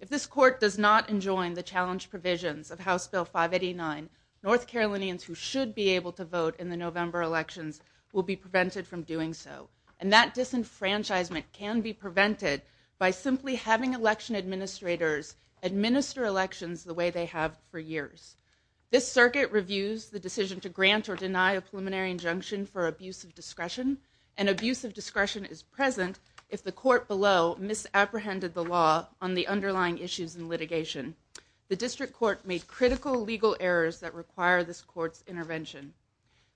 If this court does not enjoin the challenge provisions of House Bill 589, North Carolinians who should be able to vote in the November elections will be prevented from doing so. And that disenfranchisement can be prevented by simply having election administrators administer elections the way they have for years. This circuit reviews the decision to grant or deny a preliminary injunction for abuse of discretion, and abuse of discretion is present if the court below misapprehended the law on the underlying issues in litigation. The district court made critical legal errors that require this court's intervention.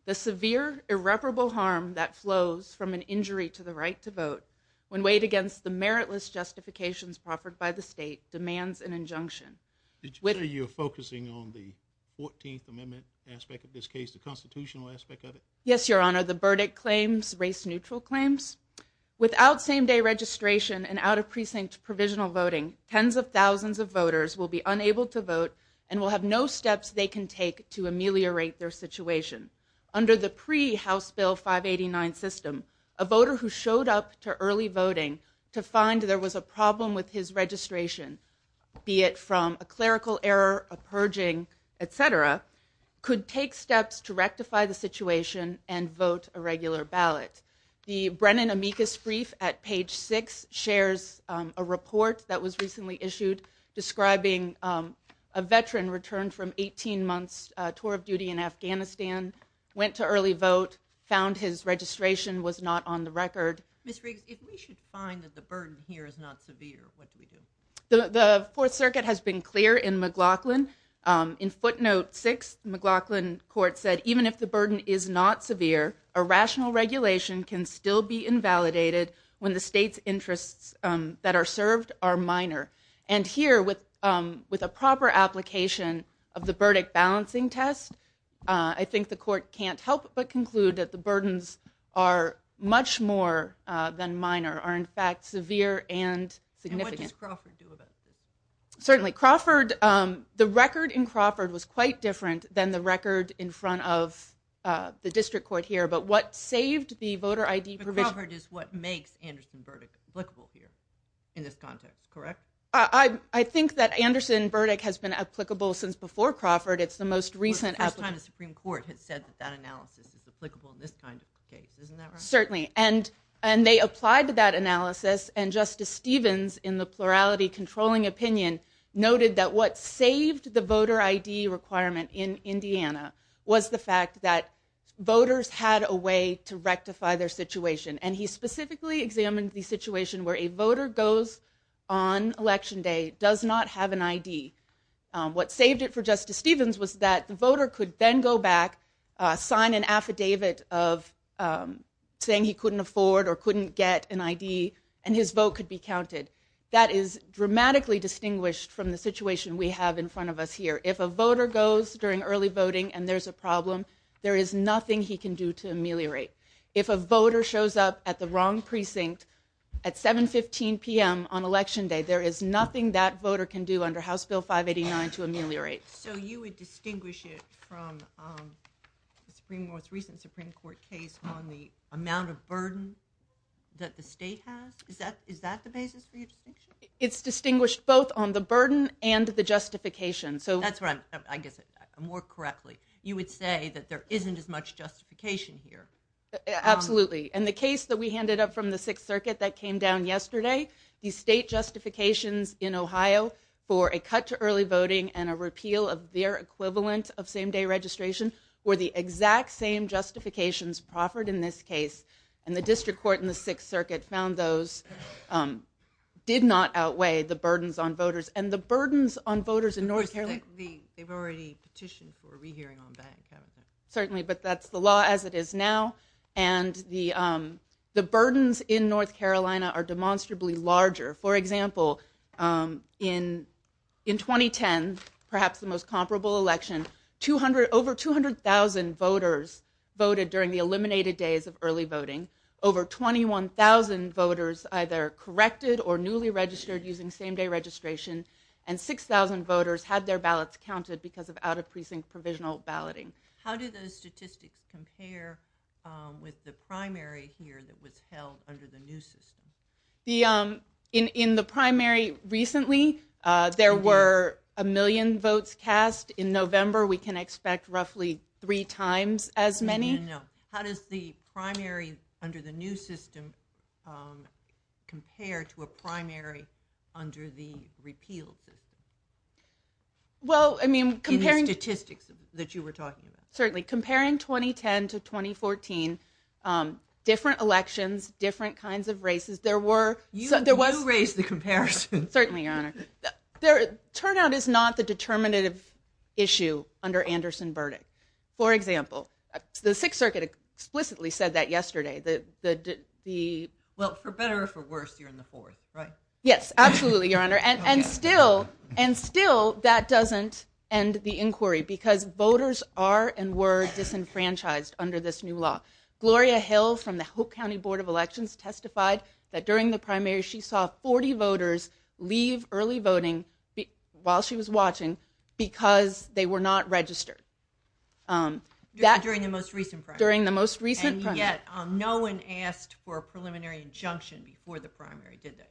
The severe irreparable harm that flows from an injury to the right to vote, when weighed against the meritless justifications offered by the state, demands an injunction. Are you focusing on the 14th Amendment aspect of this case, the constitutional aspect of it? Yes, Your Honor. The verdict claims, race-neutral claims. Without same-day registration and out-of-precinct provisional voting, tens of thousands of voters will be unable to vote and will have no steps they can take to ameliorate their situation. Under the pre-House Bill 589 system, a voter who showed up to early voting to find there was a problem with his registration, be it from a clerical error, a purging, etc., could take steps to rectify the situation and vote a regular ballot. The Brennan-Amicus brief at page 6 shares a report that was recently issued describing a veteran returned from 18-months tour of duty in Afghanistan, went to early vote, found his registration was not on the record. Ms. Riggs, if we should find that the burden here is not severe, what do we do? The Fourth Circuit has been clear in McLaughlin. In footnote 6, the McLaughlin court said, even if the burden is not severe, a rational regulation can still be invalidated when the state's interests that are served are minor. And here, with a proper application of the verdict balancing test, I think the court can't help but conclude that the burdens are much more than minor, are in fact severe and significant. And what does Crawford do about it? Certainly. Crawford, the record in Crawford was quite different than the record in front of the district court here. But what saved the voter ID provision... Crawford is what makes Anderson verdict applicable here in this context, correct? I think that Anderson verdict has been applicable since before Crawford, it's the most recent application. The first time the Supreme Court had said that analysis is applicable in this kind of case, isn't that right? Certainly. And they applied to that analysis and Justice Stevens in the plurality controlling opinion noted that what saved the voter ID requirement in Indiana was the fact that voters had a way to rectify their situation. And he specifically examined the situation where a voter goes on election day, does not have an ID. What saved it for Justice Stevens was that the voter could then go back, sign an affidavit of saying he couldn't afford or couldn't get an ID and his vote could be counted. That is dramatically distinguished from the situation we have in front of us here. If a voter goes during early voting and there's a problem, there is nothing he can do to ameliorate. If a voter shows up at the wrong precinct at 7.15 p.m. on election day, there is nothing that voter can do under House Bill 589 to ameliorate. So you would distinguish it from the Supreme Court case on the amount of burden that the state has? Is that the basis for your distinction? It's distinguished both on the burden and the justification. That's right. I get that. More correctly, you would say that there isn't as much justification here. Absolutely. And the case that we handed up from the Sixth Circuit that came down yesterday, the state in Ohio for a cut to early voting and a repeal of their equivalent of same-day registration were the exact same justifications proffered in this case, and the district court in the Sixth Circuit found those did not outweigh the burdens on voters. And the burdens on voters in North Carolina... They've already petitioned for a re-hearing on that. Certainly. But that's the law as it is now. And the burdens in North Carolina are demonstrably larger. For example, in 2010, perhaps the most comparable election, over 200,000 voters voted during the eliminated days of early voting, over 21,000 voters either corrected or newly registered using same-day registration, and 6,000 voters had their ballots counted because of out-of-precinct provisional balloting. How do those statistics compare with the primary here that was held under the new system? In the primary, recently, there were a million votes cast. In November, we can expect roughly three times as many. I know. How does the primary under the new system compare to a primary under the repeal system? Well, I mean, comparing... In the statistics that you were talking about. Certainly. Comparing 2010 to 2014, different elections, different kinds of races, there were... You raised the comparison. Certainly, Your Honor. Turnout is not the determinative issue under Anderson-Burdick. For example, the Sixth Circuit explicitly said that yesterday, that the... Well, for better or for worse, you're in the fourth, right? Yes. Absolutely, Your Honor. And still, that doesn't end the inquiry because voters are and were disenfranchised under this new law. Gloria Hill from the Hope County Board of Elections testified that during the primary, she saw 40 voters leave early voting while she was watching because they were not registered. During the most recent primary. During the most recent primary. And yet, no one asked for a preliminary injunction before the primary did that.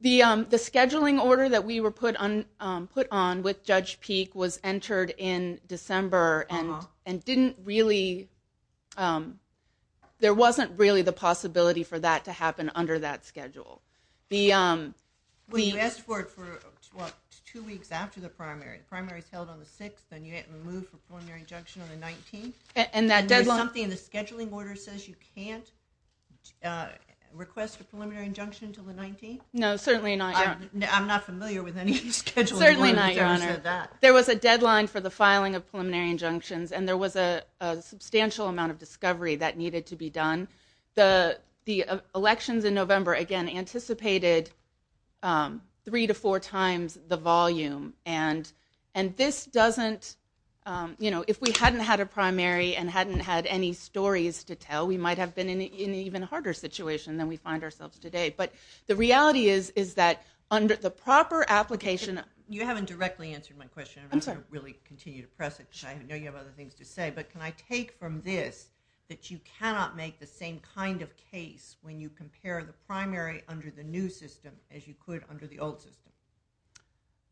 The scheduling order that we were put on with Judge Peek was entered in December and didn't really... There wasn't really the possibility for that to happen under that schedule. The... We asked for it for, what, two weeks after the primary. The primary is held on the 6th and you get removed for preliminary injunction on the 19th. And that deadline... No, certainly not, Your Honor. I'm not familiar with any scheduling order after that. Certainly not, Your Honor. There was a deadline for the filing of preliminary injunctions and there was a substantial amount of discovery that needed to be done. The elections in November, again, anticipated three to four times the volume. And this doesn't... If we hadn't had a primary and hadn't had any stories to tell, we might have been in an even harder situation than we find ourselves today. But the reality is, is that under the proper application... You haven't directly answered my question. I'm just going to really continue to press it. I know you have other things to say. But can I take from this that you cannot make the same kind of case when you compare the primary under the new system as you could under the old system?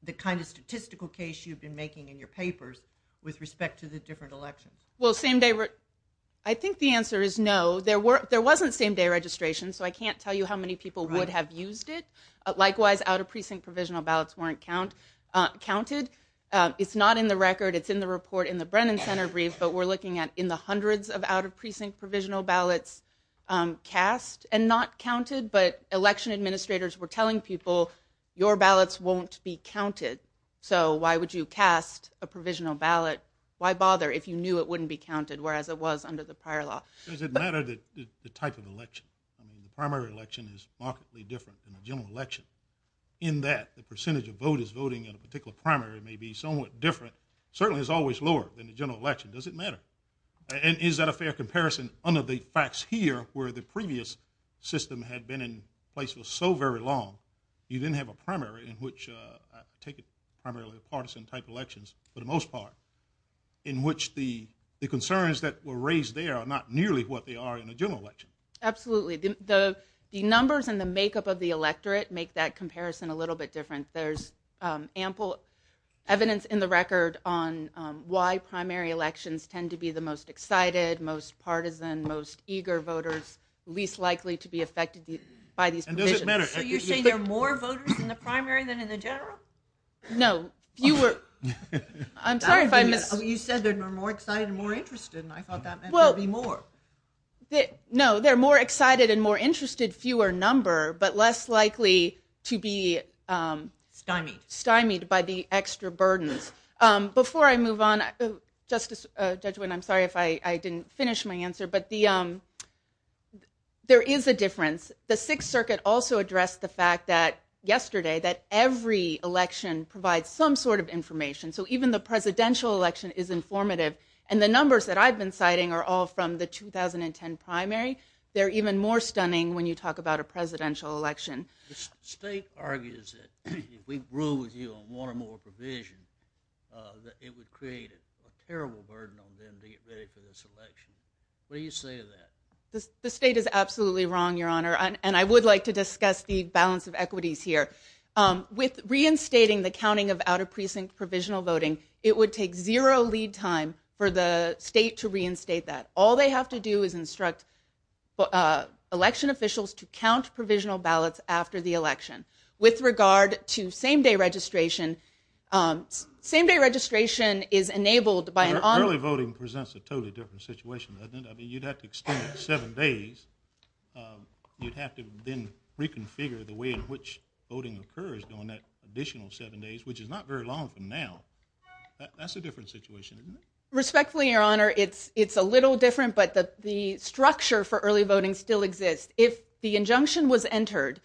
The kind of statistical case you've been making in your papers with respect to the different elections. Well, same day... I think the answer is no. There was a same-day registration, so I can't tell you how many people would have used it. Likewise, out-of-precinct provisional ballots weren't counted. It's not in the record. It's in the report in the Brennan Center Brief, but we're looking at in the hundreds of out-of-precinct provisional ballots cast and not counted. But election administrators were telling people, your ballots won't be counted. So why would you cast a provisional ballot? Why bother if you knew it wouldn't be counted, whereas it was under the prior law? Does it matter that the type of election, the primary election is markedly different than the general election, in that the percentage of voters voting in a particular primary may be somewhat different, certainly is always lower than the general election. Does it matter? And is that a fair comparison under the facts here, where the previous system had been in place for so very long, you then have a primary in which, I take it primarily a partisan type of election, for the most part, in which the concerns that were raised there are not nearly what they are in the general election. Absolutely. The numbers and the makeup of the electorate make that comparison a little bit different. There's ample evidence in the record on why primary elections tend to be the most excited, most partisan, most eager voters, least likely to be affected by these decisions. And does it matter? Are you saying there are more voters in the primary than in the general? No. Fewer... I'm sorry, but... You said there are more excited and more interested, and I thought that meant there'd be more. No. There are more excited and more interested, fewer number, but less likely to be stymied by the extra burden. Before I move on, I'm sorry if I didn't finish my answer, but there is a difference. The Sixth Circuit also addressed the fact that yesterday, that every election provides some sort of information. So even the presidential election is informative. And the numbers that I've been citing are all from the 2010 primary. They're even more stunning when you talk about a presidential election. The state argues that if we grew with you on one or more provisions, that it would create a terrible burden on them to get ready for this election. What do you say to that? The state is absolutely wrong, Your Honor. And I would like to discuss the balance of equities here. With reinstating the counting of out-of-precinct provisional voting, it would take zero lead time for the state to reinstate that. All they have to do is instruct election officials to count provisional ballots after the election. With regard to same-day registration, same-day registration is enabled by an... Early voting presents a totally different situation, doesn't it? I mean, you'd have to extend it seven days. You'd have to then reconfigure the way in which voting occurs during that additional seven days, which is not very long from now. That's a different situation, isn't it? Respectfully, Your Honor, it's a little different, but the structure for early voting still exists. If the injunction was entered,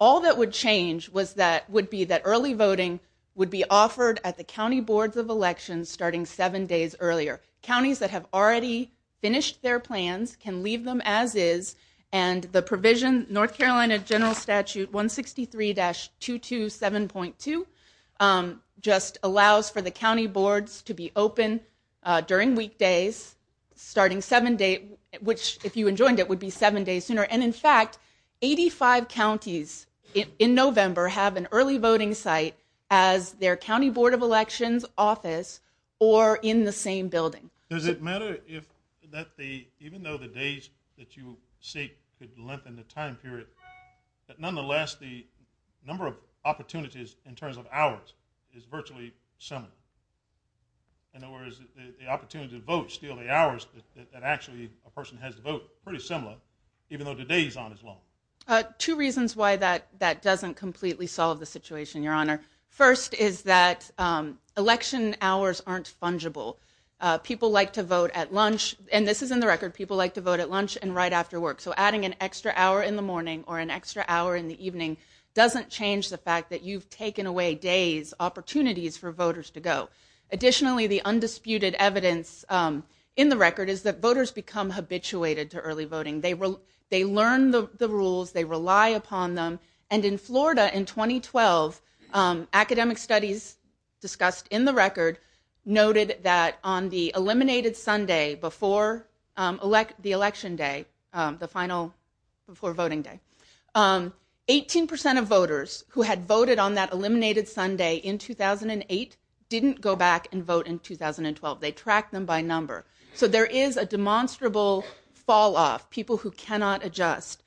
all that would change would be that early voting would be offered at the county boards of elections starting seven days earlier. Counties that have already finished their plans can leave them as is, and the provision North Carolina General Statute 163-227.2 just allows for the county boards to be open during weekdays starting seven days, which, if you enjoined it, would be seven days sooner. And, in fact, 85 counties in November have an early voting site as their county board of elections office or in the same building. Does it matter that even though the days that you seek could lengthen the time period, that nonetheless the number of opportunities in terms of hours is virtually similar? In other words, the opportunity to vote, still the hours that actually a person has to vote are pretty similar, even though the days aren't as long? Two reasons why that doesn't completely solve the situation, Your Honor. First is that election hours aren't fungible. People like to vote at lunch, and this is in the record, people like to vote at lunch and right after work. So adding an extra hour in the morning or an extra hour in the evening doesn't change the fact that you've taken away days, opportunities for voters to go. Additionally, the undisputed evidence in the record is that voters become habituated to early voting. They learn the rules, they rely upon them, and in Florida in 2012, academic studies discussed in the record noted that on the eliminated Sunday before the election day, the final before voting day, 18 percent of voters who had voted on that eliminated Sunday in 2008 didn't go back and vote in 2012. They tracked them by number. So there is a demonstrable falloff, people who cannot adjust.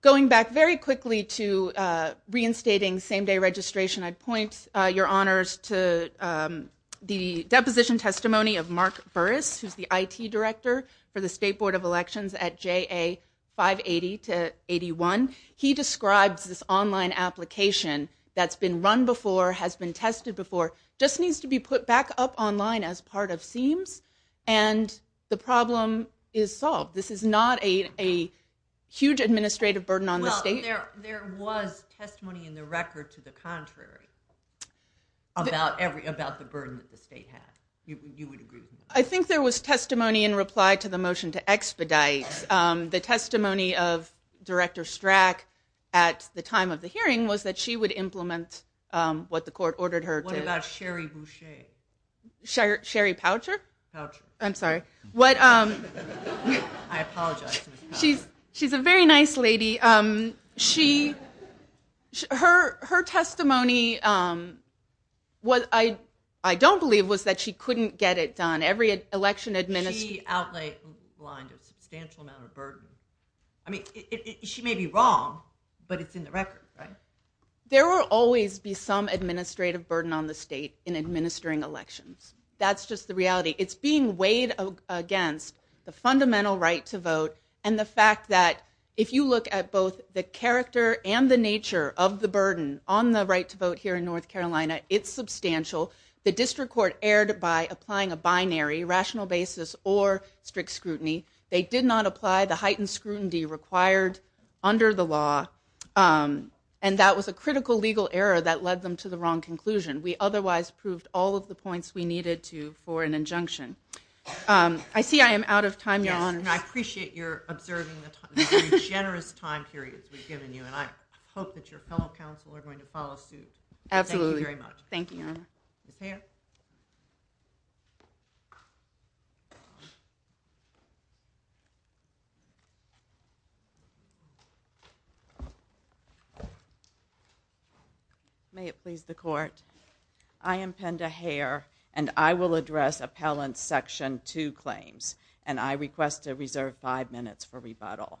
Going back very quickly to reinstating same-day registration, I'd point Your Honors to the deposition testimony of Mark Burris, who's the IT director for the State Board of Elections at JA 580-81. He describes this online application that's been run before, has been tested before, just needs to be put back up online as part of SEAMS, and the problem is solved. This is not a huge administrative burden on the state. Well, there was testimony in the record to the contrary about the burden that the state has. You would agree with that? I think there was testimony in reply to the motion to expedite. The testimony of Director Strack at the time of the hearing was that she would implement what the court ordered her to do. What about Sherry Boucher? Sherry Poucher? Poucher. I'm sorry. I apologize. She's a very nice lady. Her testimony, what I don't believe, was that she couldn't get it done. Every election administration... She outlined a substantial amount of burden. I mean, she may be wrong, but it's in the record, right? There will always be some administrative burden on the state in administering elections. That's just the reality. It's being weighed against the fundamental right to vote and the fact that if you look at both the character and the nature of the burden on the right to vote here in North Carolina, it's substantial. The district court erred by applying a binary, rational basis, or strict scrutiny. They did not apply the heightened scrutiny required under the law, and that was a critical legal error that led them to the wrong conclusion. We otherwise proved all of the points we needed to for an injunction. I see I am out of time now. I appreciate your observing the time, the generous time period we've given you, and I hope that your fellow counsel are going to follow suit. Absolutely. Thank you very much. Thank you. Thank you. May it please the court. I am Penda Hare, and I will address Appellant Section 2 claims, and I request to reserve five minutes for rebuttal.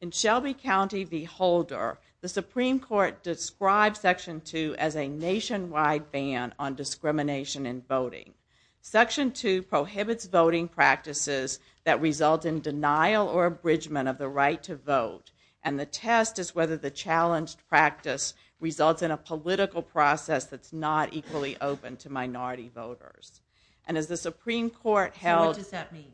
In Shelby County v. Holder, the Supreme Court described Section 2 as a nationwide ban on discrimination in voting. Section 2 prohibits voting practices that result in denial or abridgment of the right to vote, and the test is whether the challenged practice results in a political process that's not equally open to minority voters. And as the Supreme Court held… What does that mean?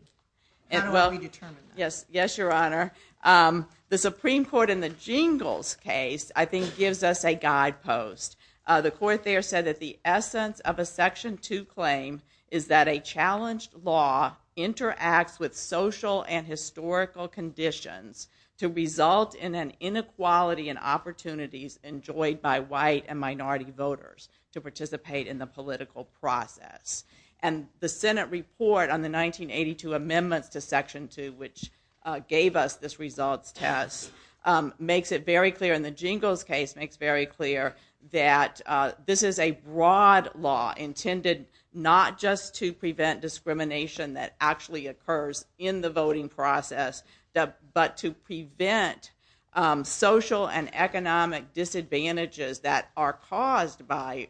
I don't want to be determined. Yes, Your Honor. The Supreme Court in the Jingles case, I think, gives us a guidepost. The court there said that the essence of a Section 2 claim is that a challenged law interacts with social and historical conditions to result in an inequality in opportunities enjoyed by white and minority voters to participate in the political process. And the Senate report on the 1982 amendment to Section 2, which gave us this results test, makes it very clear, and the Jingles case makes very clear, that this is a broad law intended not just to prevent discrimination that actually occurs in the voting process, but to prevent social and economic disadvantages that are caused by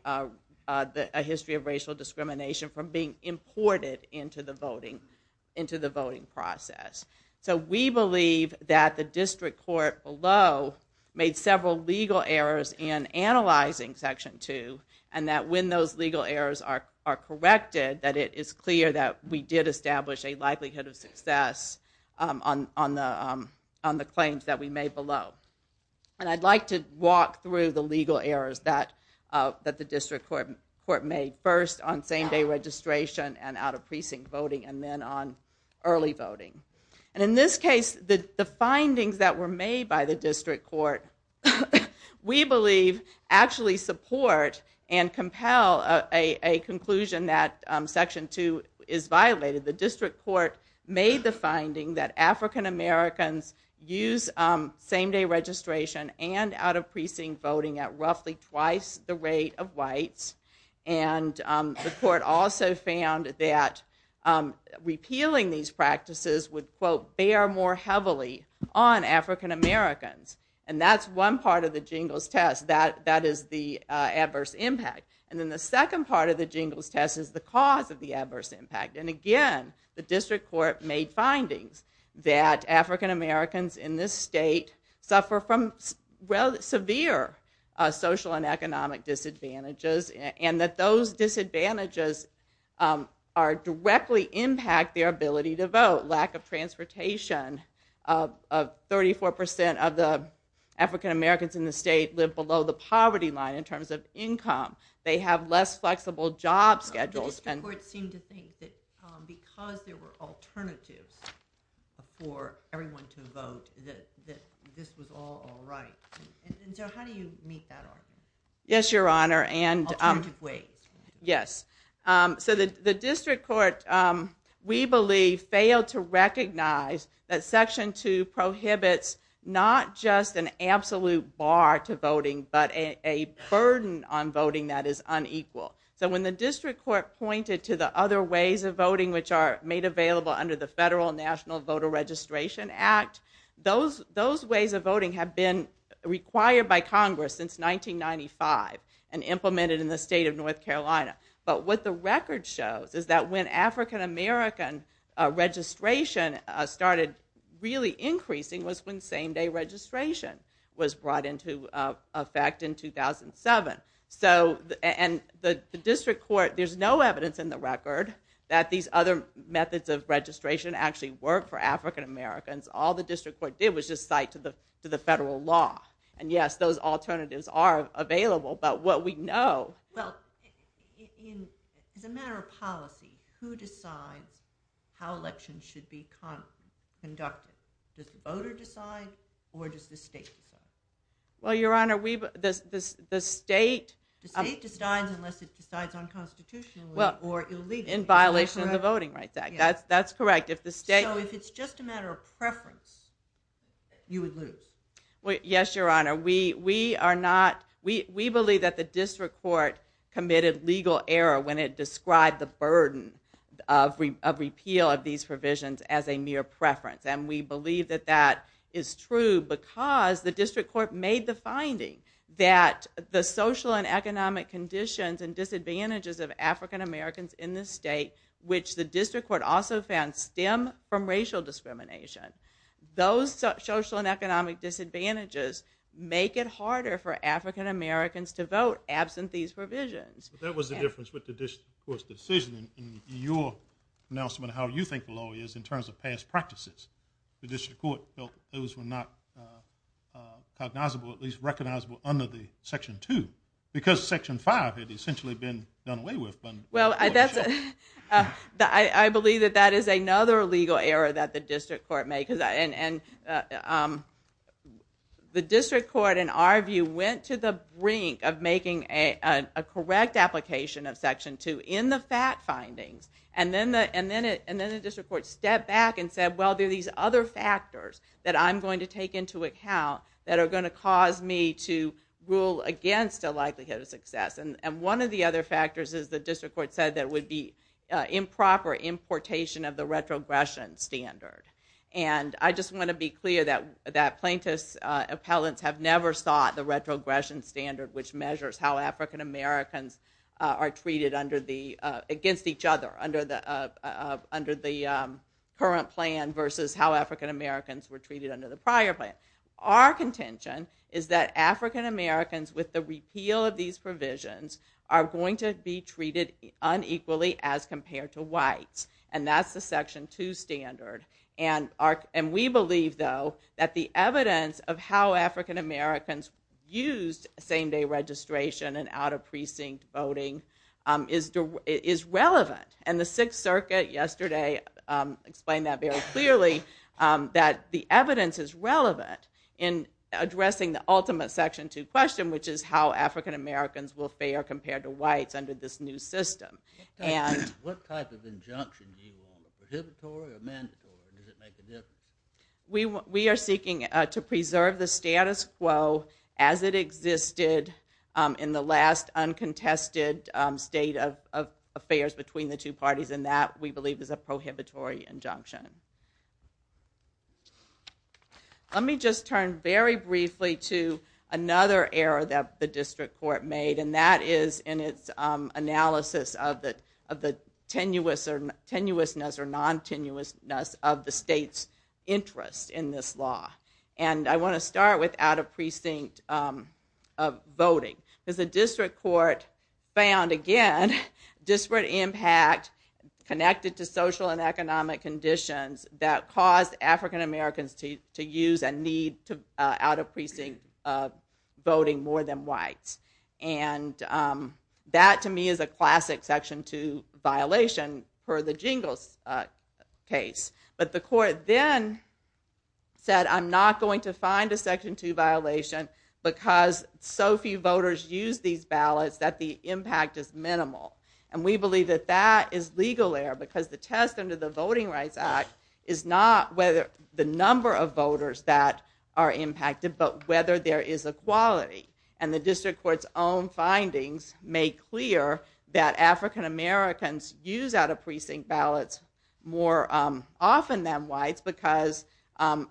a history of racial discrimination from being imported into the voting process. So we believe that the district court below made several legal errors in analyzing Section 2, and that when those legal errors are corrected, that it is clear that we did establish a likelihood of success on the claims that we made below. And I'd like to walk through the legal errors that the district court made. First, on same-day registration and out-of-precinct voting, and then on early voting. And in this case, the findings that were made by the district court, we believe, actually support and compel a conclusion that Section 2 is violated. The district court made the finding that African Americans use same-day registration and out-of-precinct voting at roughly twice the rate of whites. And the court also found that repealing these practices would, quote, bear more heavily on African Americans. And that's one part of the Jingles test, that is the adverse impact. And then the second part of the Jingles test is the cause of the adverse impact. And again, the district court made findings that African Americans in this state suffer from severe social and economic disadvantages, and that those disadvantages directly impact their ability to vote. Lack of transportation, 34% of the African Americans in the state live below the poverty line in terms of income. They have less flexible job schedules. The district court seemed to think that because there were alternatives for everyone to vote, that this was all all right. And so how do you meet that argument? Yes, Your Honor. Alternative ways. Yes. So the district court, we believe, failed to recognize that Section 2 prohibits not just an absolute bar to voting, but a burden on voting that is unequal. So when the district court pointed to the other ways of voting, which are made available under the Federal National Voter Registration Act, those ways of voting have been required by Congress since 1995 and implemented in the state of North Carolina. But what the record shows is that when African American registration started really increasing was when same-day registration was brought into effect in 2007. And the district court, there's no evidence in the record that these other methods of registration actually work for African Americans. All the district court did was just cite to the federal law. And yes, those alternatives are available, but what we know... Well, in the matter of policy, who decides how elections should be conducted? Does the voter decide, or does the state decide? Well, Your Honor, the state... The state decides unless it decides unconstitutionally or illegally. In violation of the Voting Rights Act. That's correct. So if it's just a matter of preference, you would lose? Yes, Your Honor. We believe that the district court committed legal error when it described the burden of repeal of these provisions as a mere preference. And we believe that that is true because the district court made the finding that the social and economic conditions and disadvantages of African Americans in the state, which the district court also found stem from racial discrimination. Those social and economic disadvantages make it harder for African Americans to vote absent these provisions. That was the difference with the district court's decision in your announcement on how you think the law is in terms of past practices. The district court felt those were not recognizable, at least recognizable under the Section 2. Because Section 5 had essentially been done away with. Well, I believe that that is another legal error that the district court made. The district court, in our view, went to the brink of making a correct application of Section 2 in the fact finding. And then the district court stepped back and said, well, there are these other factors that I'm going to take into account that are going to cause me to rule against the likelihood of success. And one of the other factors is the district court said there would be improper importation of the retrogression standard. And I just want to be clear that plaintiffs' appellants have never sought the retrogression standard, which measures how African Americans are treated against each other under the current plan versus how African Americans were treated under the prior plan. Our contention is that African Americans with the repeal of these provisions are going to be treated unequally as compared to whites. And that's the Section 2 standard. And we believe, though, that the evidence of how African Americans use same-day registration and out-of-precinct voting is relevant. And the Sixth Circuit yesterday explained that very clearly, that the evidence is relevant in addressing the ultimate Section 2 question, which is how African Americans will fare compared to whites under this new system. What type of injunction do you want? Preservatory or mandatory? Does it make a difference? We are seeking to preserve the status quo as it existed in the last uncontested state of affairs between the two parties, and that, we believe, is a prohibitory injunction. Let me just turn very briefly to another error that the district court made, and that is in its analysis of the tenuousness or non-tenuousness of the state's interest in this law. And I want to start with out-of-precinct voting, because the district court found, again, disparate impact connected to social and economic conditions that caused African Americans to use and need out-of-precinct voting more than whites. And that, to me, is a classic Section 2 violation for the Jingles case. But the court then said, I'm not going to find a Section 2 violation because so few voters use these ballots that the impact is minimal. And we believe that that is legal error because the test under the Voting Rights Act is not whether the number of voters that are impacted, but whether there is equality. And the district court's own findings make clear that African Americans use out-of-precinct ballots more often than whites because, as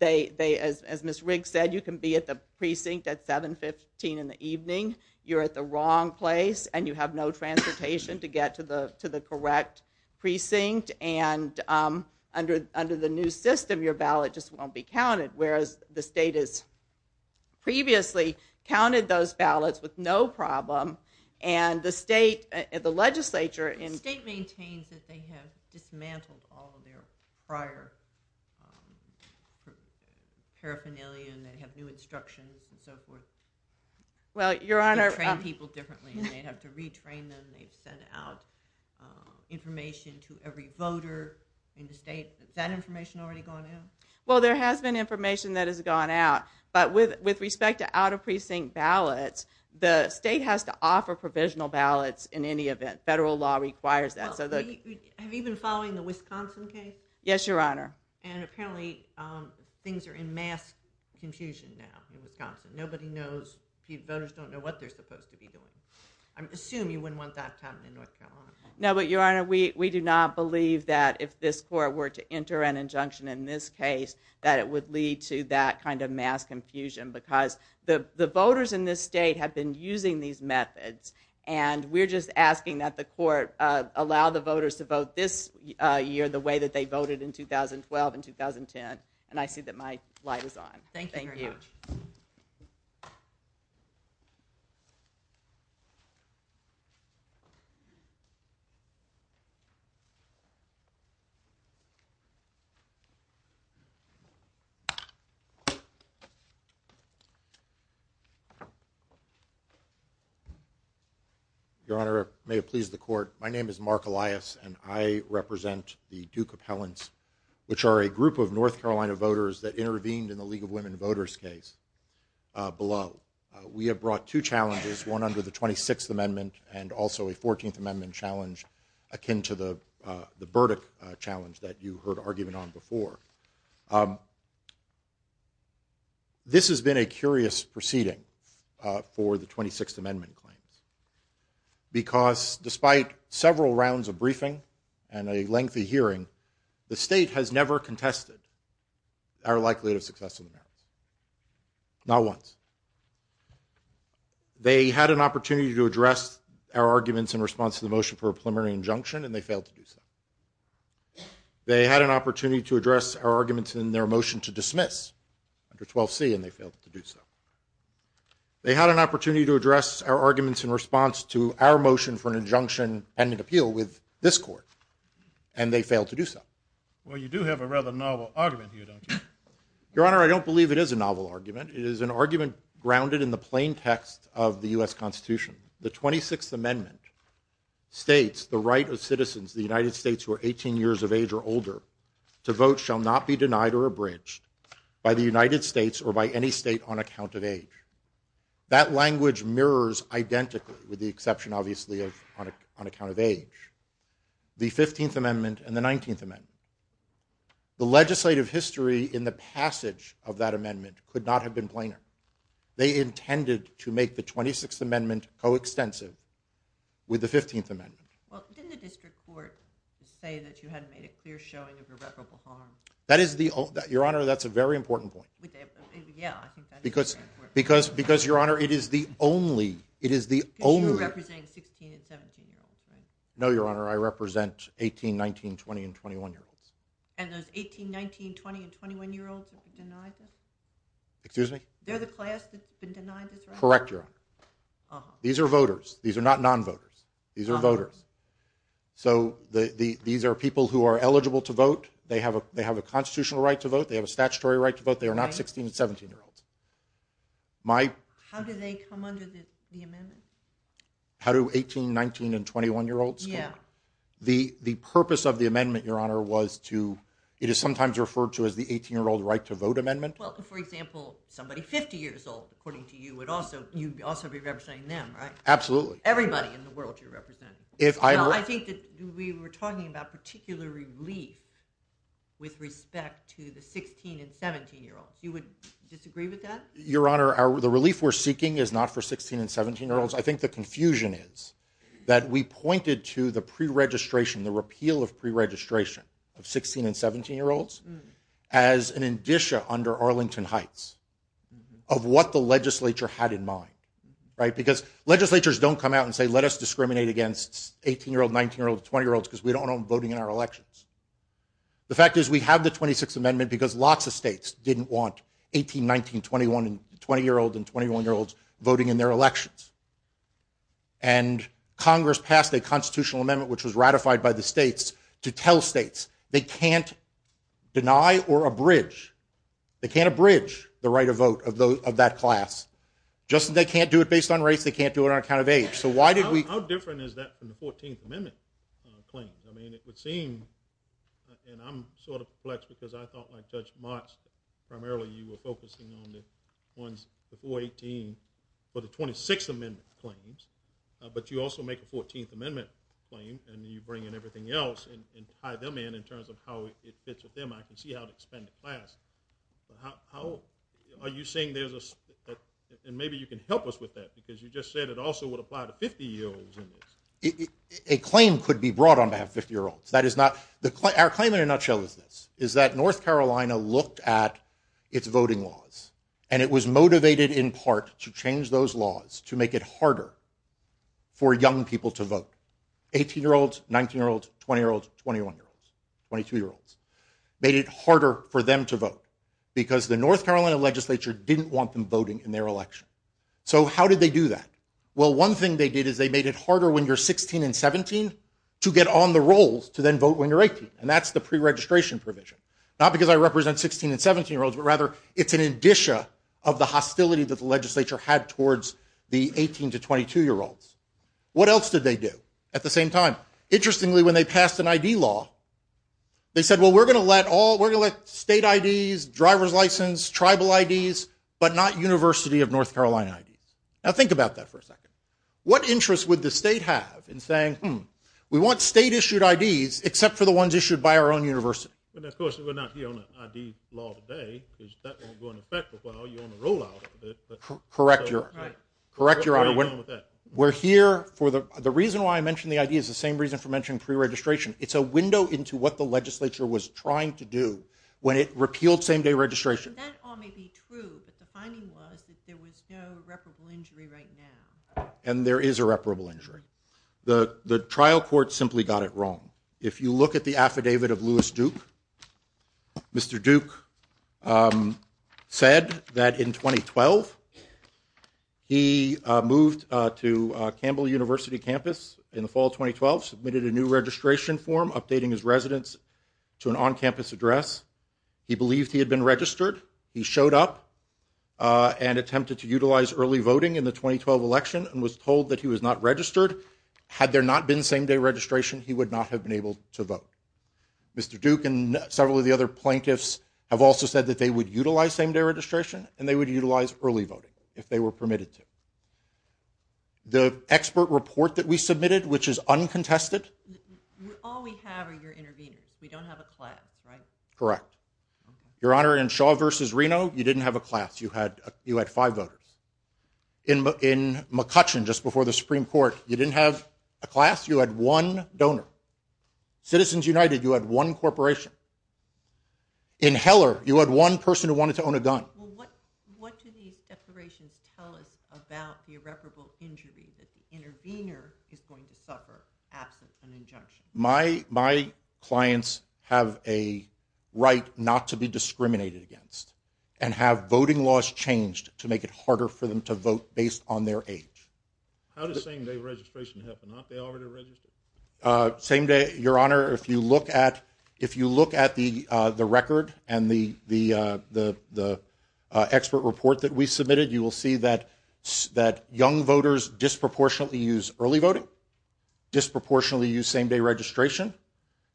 Ms. Riggs said, you can be at the precinct at 7.15 in the evening, you're at the wrong place, and you have no transportation to get to the correct precinct. And under the new system, your ballot just won't be counted, whereas the state has previously counted those ballots with no problem and the state, the legislature... The state maintains that they have dismantled all of their prior paraphernalia and they have new instructions and so forth. Well, Your Honor... They train people differently. They have to retrain them. They send out information to every voter in the state. Has that information already gone out? Well, there has been information that has gone out, but with respect to out-of-precinct ballots, the state has to offer provisional ballots in any event. Federal law requires that. Have you been following the Wisconsin case? Yes, Your Honor. And apparently things are in mass confusion now in Wisconsin. Nobody knows. Voters don't know what they're supposed to be doing. I assume you wouldn't want that happening in North Carolina. No, but Your Honor, we do not believe that if this court were to enter an injunction in this case, that it would lead to that kind of mass confusion because the voters in this state have been using these methods and we're just asking that the court allow the voters to vote this year the way that they voted in 2012 and 2010. And I see that my slide is on. Thank you. Your Honor, may it please the court, my name is Mark Elias and I represent the Duke Appellants, which are a group of North Carolina voters that intervened in the League of Women Voters case below. We have brought two challenges, one under the 26th Amendment and also a 14th Amendment challenge akin to the Burdick challenge that you heard argument on before. This has been a curious proceeding for the 26th Amendment claim because despite several rounds of briefing and a lengthy hearing, the state has never contested our likelihood of success in the matter. Not once. They had an opportunity to address our arguments in response to the motion for a preliminary injunction and they failed to do so. They had an opportunity to address our arguments in their motion to dismiss under 12C and they failed to do so. They had an opportunity to address our arguments in response to our motion for an injunction and an appeal with this court and they failed to do so. Well, you do have a rather novel argument here, don't you? Your Honor, I don't believe it is a novel argument. It is an argument grounded in the plain text of the U.S. Constitution. The 26th Amendment states the right of citizens of the United States who are 18 years of age or older to vote shall not be denied or abridged by the United States or by any state on account of age. That language mirrors identically with the exception, obviously, on account of age. The 15th Amendment and the 19th Amendment. The legislative history in the passage of that amendment could not have been plainer. They intended to make the 26th Amendment coextensive with the 15th Amendment. Well, didn't the district court say that you had made a clear showing of your reparable harm? Your Honor, that's a very important point. Yeah, I think that is very important. Because, Your Honor, it is the only... You're representing 16 and 17-year-olds, right? No, Your Honor, I represent 18, 19, 20, and 21-year-olds. And those 18, 19, 20, and 21-year-olds are denied? Excuse me? They're the class that's been denied this right? Correct, Your Honor. These are voters. These are not non-voters. These are voters. So these are people who are eligible to vote. They have a constitutional right to vote. They have a statutory right to vote. They are not 16 and 17-year-olds. How do they come under the amendment? How do 18, 19, and 21-year-olds come? The purpose of the amendment, Your Honor, was to... Well, for example, somebody 50 years old, according to you, would also be representing them, right? Absolutely. Everybody in the world you're representing. I think we were talking about particular relief with respect to the 16 and 17-year-olds. You would disagree with that? Your Honor, the relief we're seeking is not for 16 and 17-year-olds. I think the confusion is that we pointed to the pre-registration, the repeal of pre-registration of 16 and 17-year-olds as an indicia under Arlington Heights of what the legislature had in mind, right? Because legislatures don't come out and say, let us discriminate against 18-year-olds, 19-year-olds, 20-year-olds because we don't want them voting in our elections. The fact is we have the 26th Amendment because lots of states didn't want 18, 19, 20-year-olds, and 21-year-olds voting in their elections. And Congress passed a constitutional amendment which was ratified by the states to tell states they can't deny or abridge, they can't abridge the right of vote of that class. Just as they can't do it based on race, they can't do it on account of age. How different is that from the 14th Amendment claims? I mean, it would seem, and I'm sort of perplexed because I thought, like Judge Motz, primarily you were focusing on the ones before 18 for the 26th Amendment claims, but you also make a 14th Amendment claim and you bring in everything else and tie them in in terms of how it fits with them. I can see how to expand the class. How old? Are you saying there's a... And maybe you can help us with that because you just said it also would apply to 50-year-olds. A claim could be brought on behalf of 50-year-olds. Our claim in a nutshell is this, is that North Carolina looked at its voting laws and it was motivated in part to change those laws to make it harder for young people to vote. 18-year-olds, 19-year-olds, 20-year-olds, 21-year-olds, 22-year-olds. Made it harder for them to vote because the North Carolina legislature didn't want them voting in their election. So how did they do that? Well, one thing they did is they made it harder when you're 16 and 17 to get on the rolls to then vote when you're 18, and that's the preregistration provision. Not because I represent 16 and 17-year-olds, but rather it's an addition of the hostility that the legislature had towards the 18- to 22-year-olds. What else did they do at the same time? Interestingly, when they passed an ID law, they said, well, we're going to let all, we're going to let state IDs, driver's license, tribal IDs, but not University of North Carolina IDs. Now think about that for a second. What interest would the state have in saying, hmm, we want state-issued IDs except for the ones issued by our own university? And of course, it would not be on the ID law today because that won't go into effect until you're on the rollout of it. Correct your honor. We're here for the reason why I mentioned the ID is the same reason for mentioning preregistration. It's a window into what the legislature was trying to do when it repealed same-day registration. That all may be true, but the finding was that there was no reparable injury right now. And there is a reparable injury. The trial court simply got it wrong. If you look at the affidavit of Lewis Duke, Mr. Duke said that in 2012 he moved to Campbell University campus in the fall of 2012, submitted a new registration form updating his residence to an on-campus address. He believed he had been registered. He showed up and attempted to utilize early voting in the 2012 election and was told that he was not registered. Had there not been same-day registration, he would not have been able to vote. Mr. Duke and several of the other plaintiffs have also said that they would utilize same-day registration and they would utilize early voting if they were permitted to. The expert report that we submitted, which is uncontested... All we have are your interviews. We don't have a class, right? Correct. Your Honor, in Shaw v. Reno, you didn't have a class. You had five voters. In McCutcheon, just before the Supreme Court, you didn't have a class. You had one donor. Citizens United, you had one corporation. In Heller, you had one person who wanted to own a gun. What do these declarations tell us about the irreparable injury that the intervener is going to suffer after an injunction? My clients have a right not to be discriminated against and have voting laws changed to make it harder for them to vote based on their age. How does same-day registration happen? Aren't they already registered? Your Honor, if you look at the record and the expert report that we submitted, you will see that young voters disproportionately use early voting, disproportionately use same-day registration,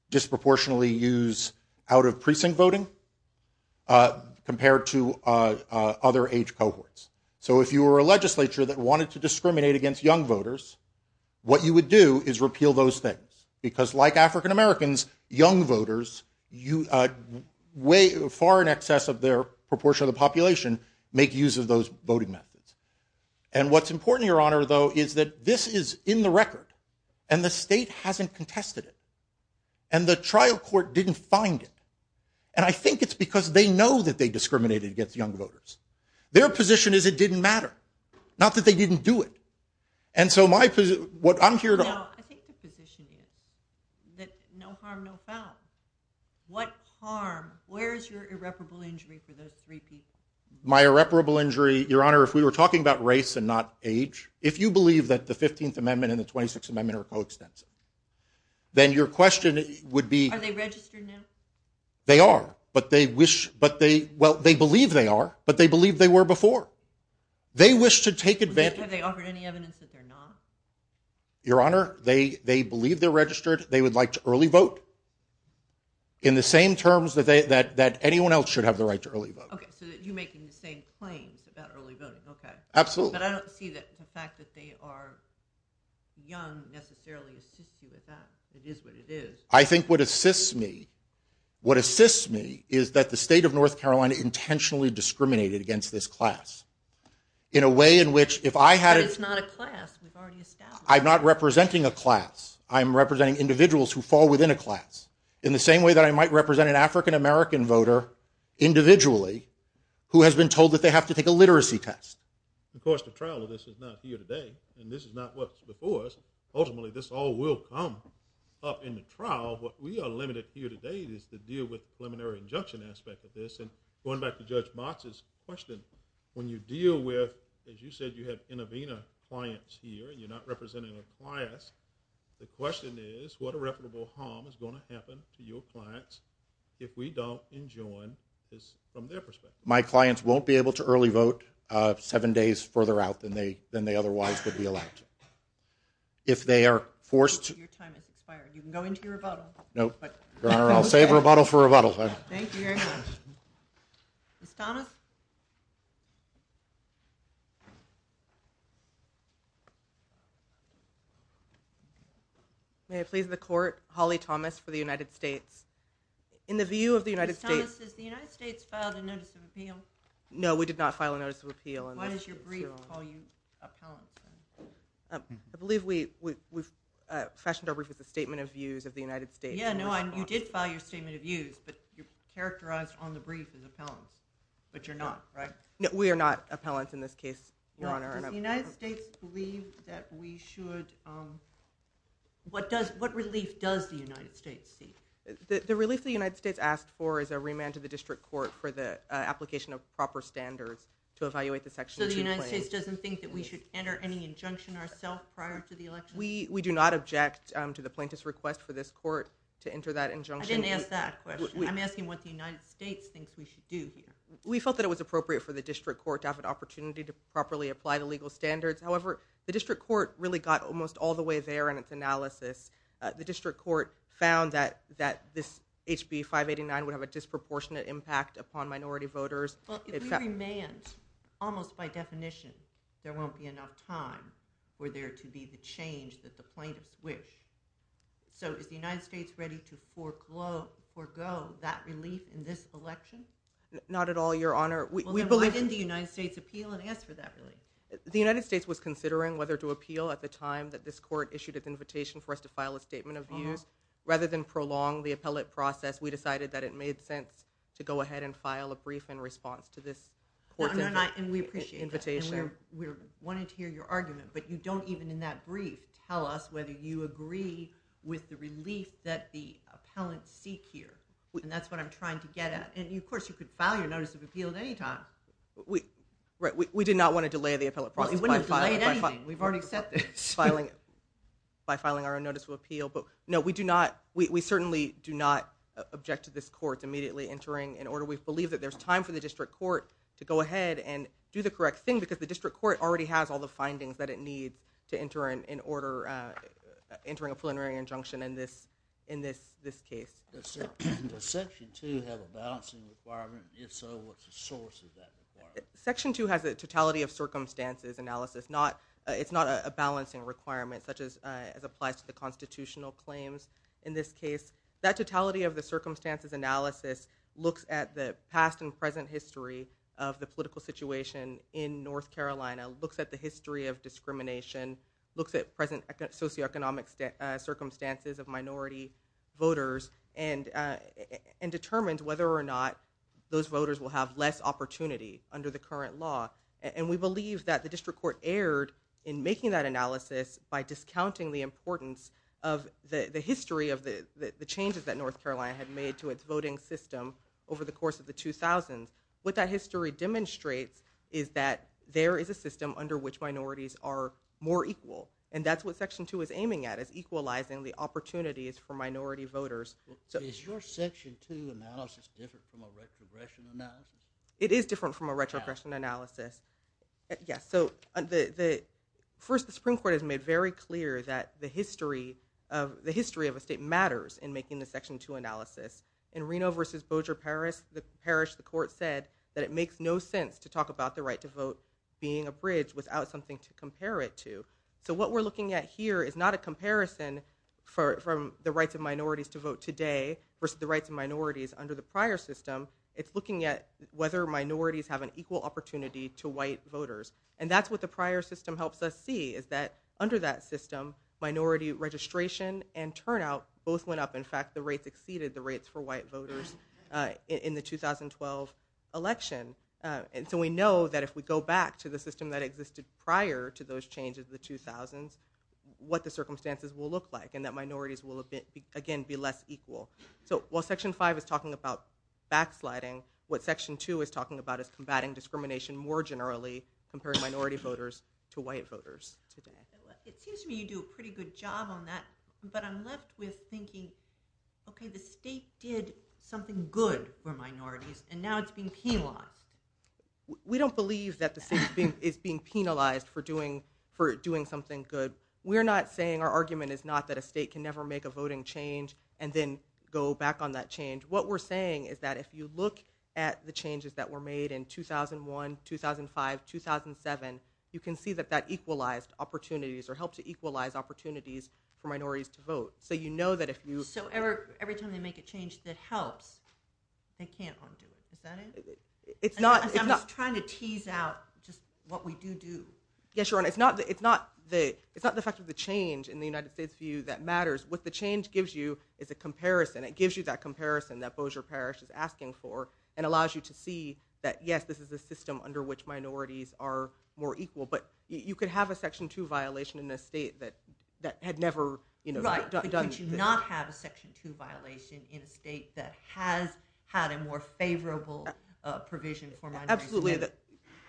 disproportionately use out-of-precinct voting compared to other age cohorts. So if you were a legislature that wanted to discriminate against young voters, what you would do is repeal those things because like African Americans, young voters, far in excess of their proportion of the population, make use of those voting methods. And what's important, Your Honor, though, is that this is in the record, and the state hasn't contested it, and the trial court didn't find it. And I think it's because they know that they discriminated against young voters. Their position is it didn't matter, not that they didn't do it. And so my position, what I'm here to... Well, I think your position is that no harm, no foul. What harm? Where is your irreparable injury for those three pieces? My irreparable injury, Your Honor, if we were talking about race and not age, if you believe that the 15th Amendment and the 26th Amendment are code steps, then your question would be... Are they registered now? They are, but they wish, but they, well, they believe they are, but they believe they were before. They wish to take advantage... Have they offered any evidence that they're not? Your Honor, they believe they're registered. They would like to early vote, in the same terms that anyone else should have the right to early vote. Okay, so you make the same claims about early voting, okay. Absolutely. But I don't see the fact that they are young necessarily assist you with that. It is what it is. I think what assists me, what assists me is that the state of North Carolina has been intentionally discriminated against this class in a way in which if I had... But it's not a class. I'm not representing a class. I'm representing individuals who fall within a class in the same way that I might represent an African-American voter individually who has been told that they have to take a literacy test. Of course, the trial of this is not here today, and this is not what's before us. Ultimately, this all will come up in the trial. What we are limited here today is to deal with Going back to Judge Box's question, when you deal with, as you said, you have Innovena clients here and you're not representing a class, the question is what irreparable harm is going to happen to your clients if we don't enjoin this from their perspective? My clients won't be able to early vote seven days further out than they otherwise would be allowed to. If they are forced to... Your time is expired. You can go into rebuttal. No, Your Honor, I'll save rebuttal for rebuttal. Thank you very much. Ms. Thomas? May it please the Court, Holly Thomas for the United States. In the view of the United States... Ms. Thomas, has the United States filed a Notice of Appeal? No, we did not file a Notice of Appeal. Why does your brief call you out? I believe we've freshened up the Statement of Views of the United States. Yeah, no, you did file your Statement of Views, but you're characterized on the brief as appellant, but you're not, right? No, we are not appellants in this case, Your Honor. Does the United States believe that we should... What relief does the United States seek? The relief the United States asks for is a remand to the District Court for the application of proper standards to evaluate the Section 2 claims. So the United States doesn't think that we should enter any injunction ourselves prior to the election? We do not object to the plaintiff's request for this Court to enter that injunction. I didn't ask that question. I'm asking what the United States thinks we should do here. We felt that it was appropriate for the District Court to have an opportunity to properly apply the legal standards. However, the District Court really got almost all the way there in its analysis. The District Court found that this HB 589 would have a disproportionate impact upon minority voters. If we remand, almost by definition, there won't be enough time for there to be the change that the plaintiffs wish. So is the United States ready to forego that relief in this election? Not at all, Your Honor. Well, then why didn't the United States appeal and ask for that relief? The United States was considering whether to appeal at the time that this Court issued its invitation for us to file a statement of view. Rather than prolong the appellate process, we decided that it made sense to go ahead and file a brief in response to this Court's invitation. We wanted to hear your argument, but you don't even in that brief tell us whether you agree with the relief that the appellants seek here. And that's what I'm trying to get at. And, of course, you could file your Notice of Appeal at any time. We did not want to delay the appellate process. You wouldn't have delayed anything. We've already accepted it. By filing our Notice of Appeal. But, no, we certainly do not object to this Court immediately entering an order. We believe that there's time for the District Court to go ahead and do the correct thing, because the District Court already has all the findings that it needs to enter an order, entering a preliminary injunction in this case. Does Section 2 have a balancing requirement? If so, what's the source of that requirement? Section 2 has a totality of circumstances analysis. It's not a balancing requirement, such as applies to the constitutional claims in this case. That totality of the circumstances analysis looks at the past and present history of the political situation in North Carolina, looks at the history of discrimination, looks at present socioeconomic circumstances of minority voters, and determines whether or not those voters will have less opportunity under the current law. And we believe that the District Court erred in making that analysis by discounting the importance of the history of the changes that North Carolina had made to its voting system over the course of the 2000s. What that history demonstrates is that there is a system under which minorities are more equal, and that's what Section 2 is aiming at, is equalizing the opportunities for minority voters. Is your Section 2 analysis different from a retrogression analysis? It is different from a retrogression analysis. Yeah, so the Supreme Court has made very clear that the history of a state matters in making the Section 2 analysis. In Reno v. Bossier Parish, the court said that it makes no sense to talk about the right to vote being abridged without something to compare it to. So what we're looking at here is not a comparison from the rights of minorities to vote today versus the rights of minorities under the prior system. It's looking at whether minorities have an equal opportunity to white voters. And that's what the prior system helps us see, is that under that system, minority registration and turnout, both went up. In fact, the rates exceeded the rates for white voters in the 2012 election. So we know that if we go back to the system that existed prior to those changes in the 2000s, what the circumstances will look like, and that minorities will, again, be less equal. So while Section 5 is talking about backsliding, what Section 2 is talking about is combating discrimination more generally compared to minority voters to white voters. It seems to me you do a pretty good job on that, but I'm left with thinking, okay, the state did something good for minorities, and now it's being penalized. We don't believe that the state is being penalized for doing something good. Our argument is not that a state can never make a voting change and then go back on that change. What we're saying is that if you look at the changes that were made in 2001, 2005, 2007, you can see that that equalized opportunities or helped to equalize opportunities for minorities to vote. So you know that if you... So every time they make a change to help, they can't harm people, is that it? It's not... I'm just trying to tease out just what we do do. Yes, Your Honor, it's not the fact of the change in the United States view that matters. What the change gives you is a comparison. It gives you that comparison that Bossier Parish is asking for and allows you to see that, yes, this is a system under which minorities are more equal. But you could have a Section 2 violation in a state that had never done anything. Right, but you do not have a Section 2 violation in a state that has had a more favorable provision for minorities. Absolutely.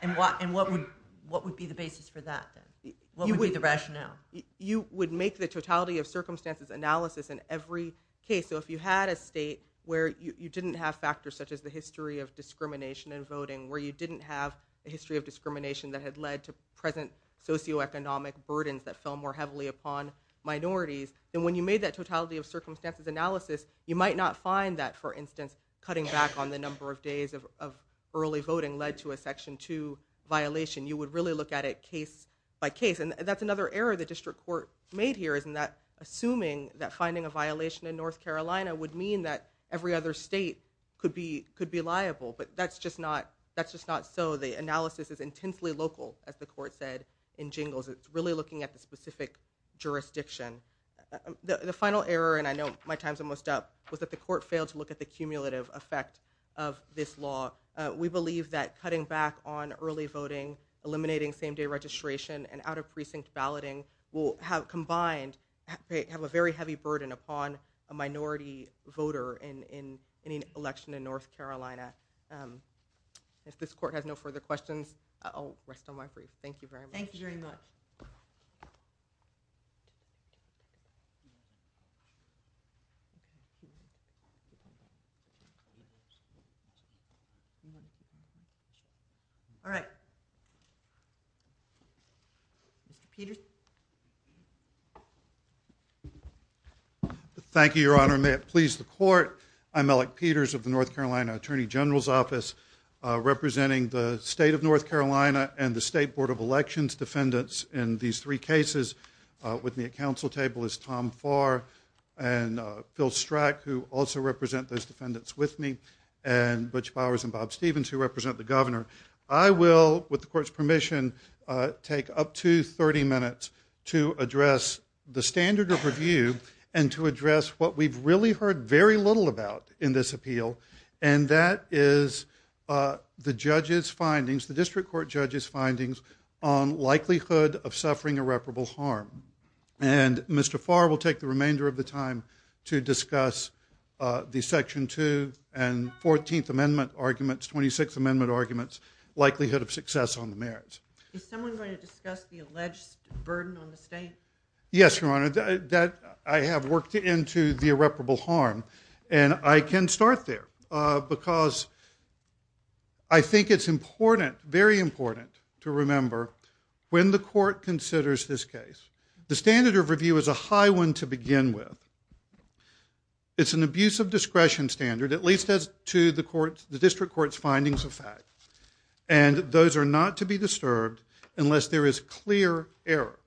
And what would be the basis for that then? What would be the rationale? You would make the totality of circumstances analysis in every case. So if you had a state where you didn't have factors such as the history of discrimination in voting, where you didn't have a history of discrimination that had led to present socioeconomic burdens that fell more heavily upon minorities, then when you made that totality of circumstances analysis, you might not find that, for instance, cutting back on the number of days of early voting led to a Section 2 violation. You would really look at it case by case. And that's another error the district court made here, in that assuming that finding a violation in North Carolina would mean that every other state could be liable. But that's just not so. The analysis is intensely local, as the court said, in jingles. It's really looking at the specific jurisdiction. The final error, and I know my time's almost up, was that the court failed to look at the cumulative effect of this law. We believe that cutting back on early voting, eliminating same-day registration, and out-of-precinct balloting will have combined, have a very heavy burden upon a minority voter in any election in North Carolina. If this court has no further questions, I'll rest on my feet. Thank you very much. Thank you very much. All right. Thank you, Your Honor. May it please the court, I'm Alec Peters of the North Carolina Attorney General's Office, representing the state of North Carolina and the State Board of Elections defendants in these three cases. With me at council table is Tom Farr and Phil Strack, who also represent those defendants with me, and Butch Bowers and Bob Stevens, who represent the governor. I will, with the court's permission, take up to 30 minutes to address the standard of review and to address what we've really heard very little about in this appeal, and that is the judge's findings, the district court judge's findings, on likelihood of suffering irreparable harm. And Mr. Farr will take the remainder of the time to discuss the Section 2 and 14th Amendment arguments, 26th Amendment arguments, likelihood of success on the merits. Is someone going to discuss the alleged burden on the state? Yes, Your Honor, I have worked into the irreparable harm, and I can start there because I think it's important, very important to remember when the court considers this case. The standard of review is a high one to begin with. It's an abuse of discretion standard, at least to the district court's findings and facts, and those are not to be disturbed unless there is clear error.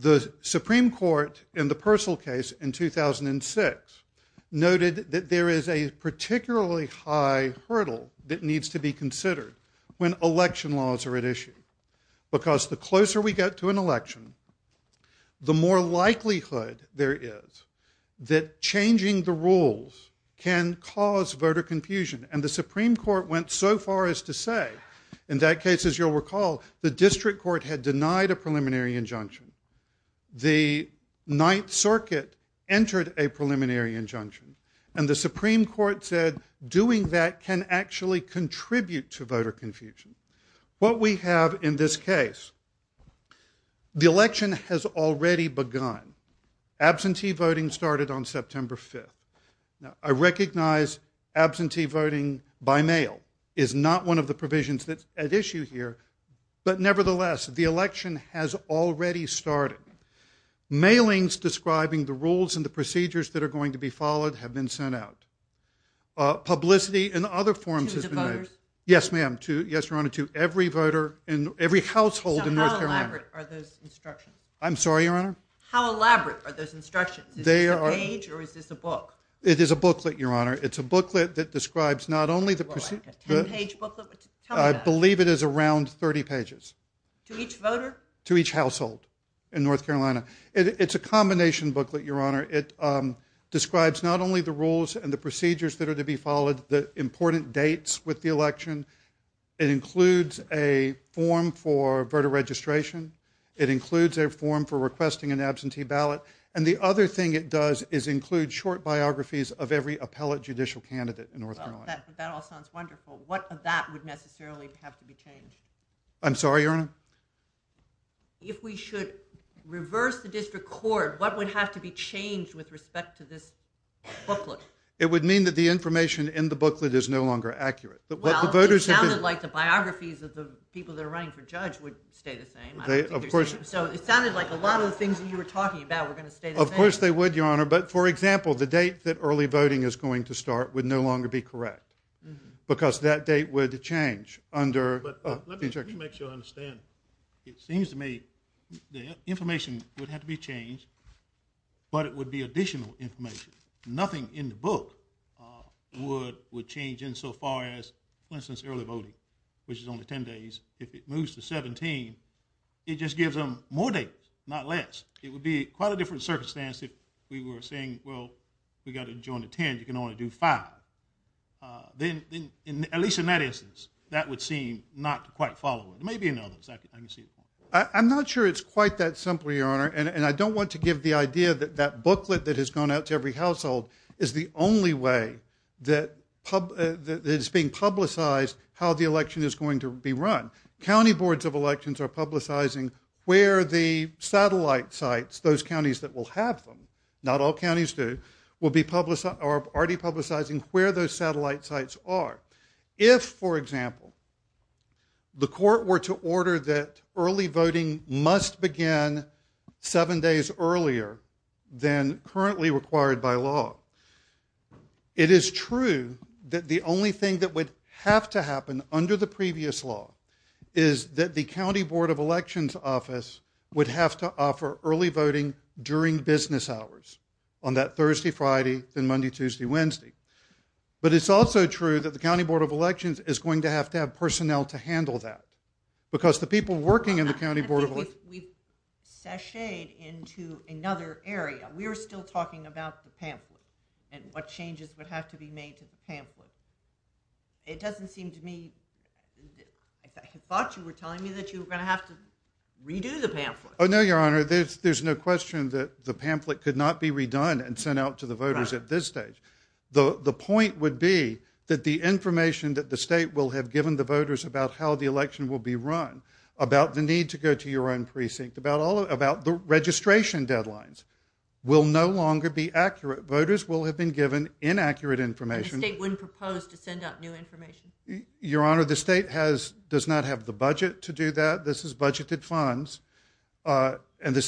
The Supreme Court, in the Persil case in 2006, noted that there is a particularly high hurdle that needs to be considered when election laws are at issue because the closer we get to an election, the more likelihood there is that changing the rules can cause voter confusion, and the Supreme Court went so far as to say, in that case, as you'll recall, the district court had denied a preliminary injunction. The Ninth Circuit entered a preliminary injunction, and the Supreme Court said doing that can actually contribute to voter confusion. What we have in this case, the election has already begun. Absentee voting started on September 5th. I recognize absentee voting by mail is not one of the provisions that's at issue here, but nevertheless, the election has already started. Mailings describing the rules and the procedures that are going to be followed have been sent out. Publicity in other forms has been made. To the voters? Yes, ma'am. Yes, Your Honor, to every voter and every household in North Carolina. How elaborate are those instructions? I'm sorry, Your Honor? How elaborate are those instructions? Is this a page or is this a book? It is a booklet, Your Honor. It's a booklet that describes not only the procedures. A 10-page booklet? I believe it is around 30 pages. To each voter? To each household in North Carolina. It's a combination booklet, Your Honor. It describes not only the rules and the procedures that are to be followed, the important dates with the election. It includes a form for voter registration. It includes a form for requesting an absentee ballot, and the other thing it does is include short biographies of every appellate judicial candidate in North Carolina. That all sounds wonderful. What of that would necessarily have to be changed? I'm sorry, Your Honor? If we should reverse the district court, what would have to be changed with respect to this booklet? It would mean that the information in the booklet is no longer accurate. Well, it sounded like the biographies of the people that are running for judge would stay the same. Of course. So it sounded like a lot of the things you were talking about were going to stay the same. Of course they would, Your Honor. But, for example, the date that early voting is going to start would no longer be correct because that date would change under... Let me make sure I understand. It seems to me the information would have to be changed, but it would be additional information. Nothing in the book would change insofar as, for instance, early voting, which is only 10 days. If it moves to 17, it just gives them more days, not less. It would be quite a different circumstance if we were saying, well, we've got to adjourn to 10. You can only do five. Then, at least in that instance, that would seem not to quite follow. There may be another. Let me see. I'm not sure it's quite that simple, Your Honor, and I don't want to give the idea that that booklet that has gone out to every household is the only way that it's being publicized how the election is going to be run. County boards of elections are publicizing where the satellite sites, those counties that will have them, not all counties do, are already publicizing where those satellite sites are. If, for example, the court were to order that early voting must begin seven days earlier than currently required by law, it is true that the only thing that would have to happen under the previous law is that the county board of elections office would have to offer early voting during business hours on that Thursday, Friday, then Monday, Tuesday, Wednesday. But it's also true that the county board of elections is going to have to have personnel to handle that because the people working in the county board of elections... We've sashayed into another area. We're still talking about the pamphlet and what changes would have to be made to the pamphlet. It doesn't seem to me... I thought you were telling me that you were going to have to redo the pamphlet. Oh, no, Your Honor, there's no question that the pamphlet could not be redone and sent out to the voters at this stage. The point would be that the information that the state will have given the voters about how the election will be run, about the need to go to your own precinct, about the registration deadlines, will no longer be accurate. Voters will have been given inaccurate information. The state wouldn't propose to send out new information? Your Honor, the state does not have the budget to do that. This is budgeted funds. And the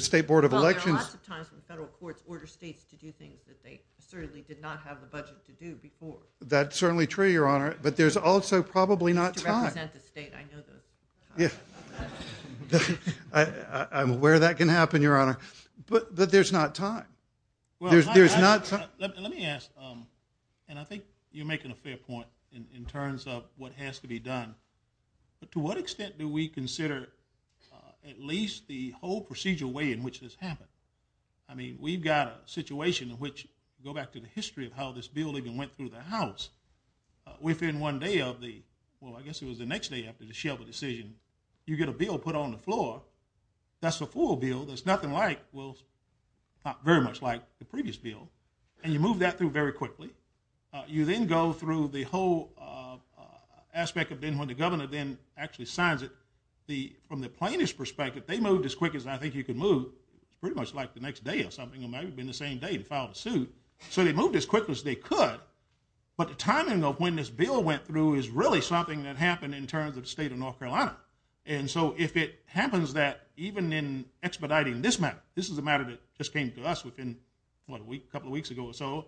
state board of elections... Well, a lot of times, the federal court orders states to do things that they certainly did not have the budget to do before. That's certainly true, Your Honor, but there's also probably not time. Yes. I'm aware that can happen, Your Honor, but there's not time. There's not... Let me ask, and I think you're making a fair point in terms of what has to be done. To what extent do we consider at least the whole procedural way in which this happened? I mean, we've got a situation in which, go back to the history of how this building went through the House, within one day of the... Well, I guess it was the next day after the Shelby decision, you get a bill put on the floor. That's a full bill. There's nothing like... Well, not very much like the previous bill. And you move that through very quickly. You then go through the whole aspect of when the governor then actually signs it. From the plaintiff's perspective, they moved as quick as I think you can move pretty much like the next day or something. It might have been the same day to file the suit. So they moved as quick as they could, but the timing of when this bill went through is really something that happened in terms of the state of North Carolina. And so if it happens that even in expediting this matter, this is a matter that just came to us within a couple of weeks ago or so,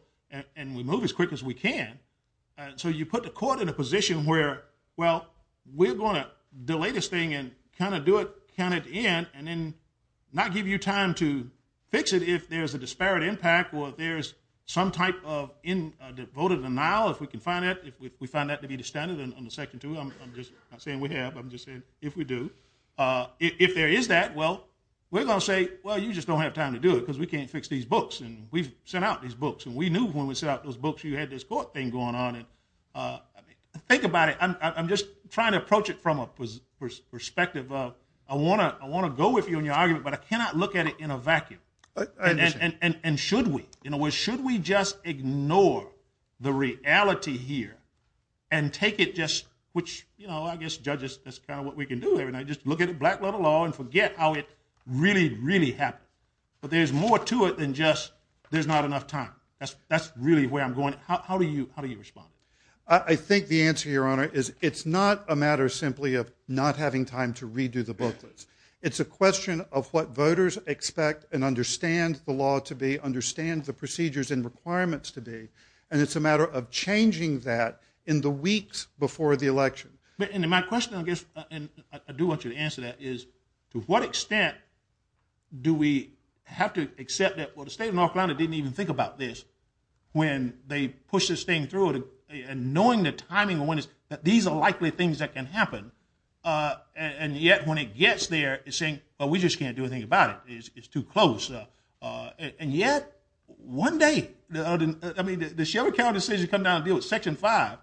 and we move as quick as we can, so you put the court in a position where, well, we're going to delay this thing and kind of do it, count it in, and then not give you time to fix it if there's a disparate impact or if there's some type of vote of denial, if we can find that, if we find that to be the standard. I'm just saying we have. I'm just saying if we do. If there is that, well, we're going to say, well, you just don't have time to do it because we can't fix these books, and we've sent out these books, and we knew when we sent out those books you had this court thing going on. Think about it. I'm just trying to approach it from a perspective of I want to go with you on your argument, but I cannot look at it in a vacuum. And should we? Should we just ignore the reality here and take it just, which, you know, I guess judges, that's kind of what we can do. Just look at black-level law and forget how it really, really happened. But there's more to it than just there's not enough time. That's really where I'm going. How do you respond? I think the answer, Your Honor, is it's not a matter simply of not having time to redo the booklets. It's a question of what voters expect and understand the law to be, understand the procedures and requirements to be, and it's a matter of changing that in the weeks before the election. And my question, I guess, and I do want you to answer that, is to what extent do we have to accept that, well, the state of North Carolina didn't even think about this when they pushed this thing through and knowing the timing, knowing that these are likely things that can happen, and yet when it gets there, it's saying, well, we just can't do anything about it. It's too close. And yet, one day, I mean, the Shelby County decision to come down and deal with Section 5,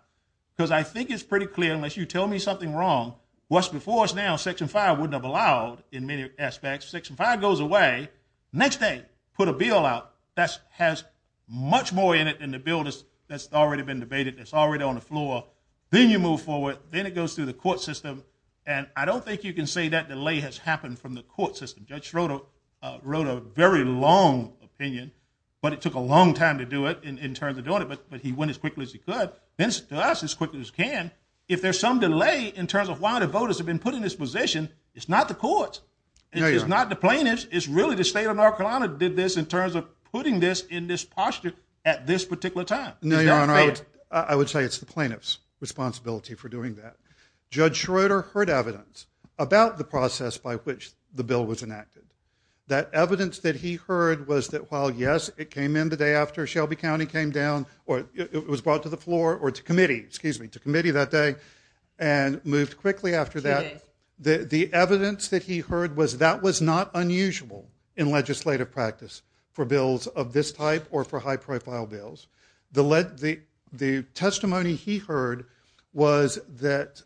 because I think it's pretty clear, unless you tell me something wrong, what's before us now, Section 5 wouldn't have allowed in many aspects. Section 5 goes away. Next day, put a bill out that has much more in it than the bill that's already been debated, that's already on the floor. Then you move forward. Then it goes through the court system, and I don't think you can say that delay has happened from the court system. Judge Schroeder wrote a very long opinion, but it took a long time to do it, in terms of doing it, but he went as quickly as he could, and to us, as quickly as he can. If there's some delay in terms of why the voters have been putting this position, it's not the courts. It's not the plaintiffs. It's really the state of North Carolina that did this in terms of putting this in this posture at this particular time. I would say it's the plaintiffs' responsibility for doing that. Judge Schroeder heard evidence about the process by which the bill was enacted. That evidence that he heard was that while, yes, it came in the day after Shelby County came down, or it was brought to the committee that day, and moved quickly after that, the evidence that he heard was that was not unusual in legislative practice for bills of this type or for high-profile bills. The testimony he heard was that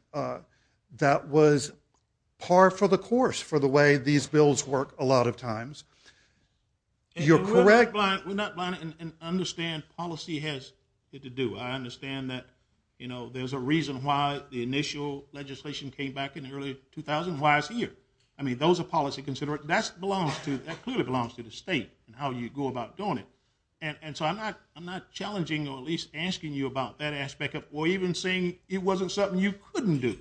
that was par for the course for the way these bills work a lot of times. You're correct. I understand policy has to do. I understand that there's a reason why the initial legislation came back in early 2000. Why is it here? Those are policy considerations. That clearly belongs to the state and how you go about doing it. I'm not challenging or at least asking you about that aspect or even saying it wasn't something you couldn't do.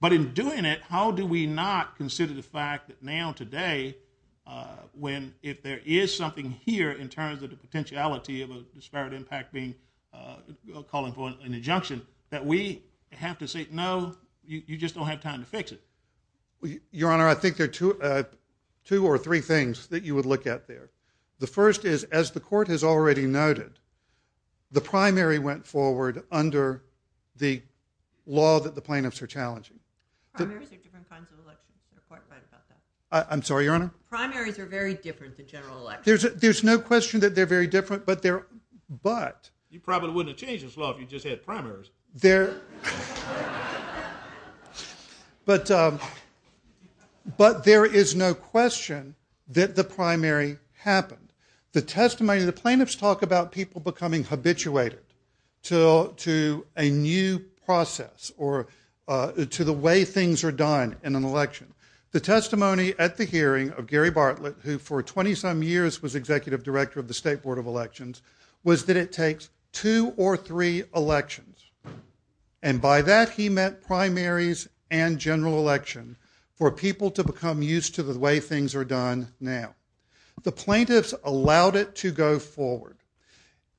But in doing it, how do we not consider the fact that now, today, if there is something here in terms of the potentiality of a disparity impact being called for an injunction, that we have to say, no, you just don't have time to fix it. Your Honor, I think there are two or three things that you would look at there. The first is, as the Court has already noted, the primary went forward under the law that the plaintiffs are challenging. I'm sorry, Your Honor? There's no question that they're very different, but you probably wouldn't have changed this law if you just had primaries. But there is no question that the primary happened. The testimony, the plaintiffs talk about people becoming habituated to a new process or to the way things are done in an election. The testimony at the hearing of Gary Bartlett, who for 20-some years was Executive Director of the State's two or three elections, and by that he meant primaries and general elections for people to become used to the way things are done now. The plaintiffs allowed it to go forward.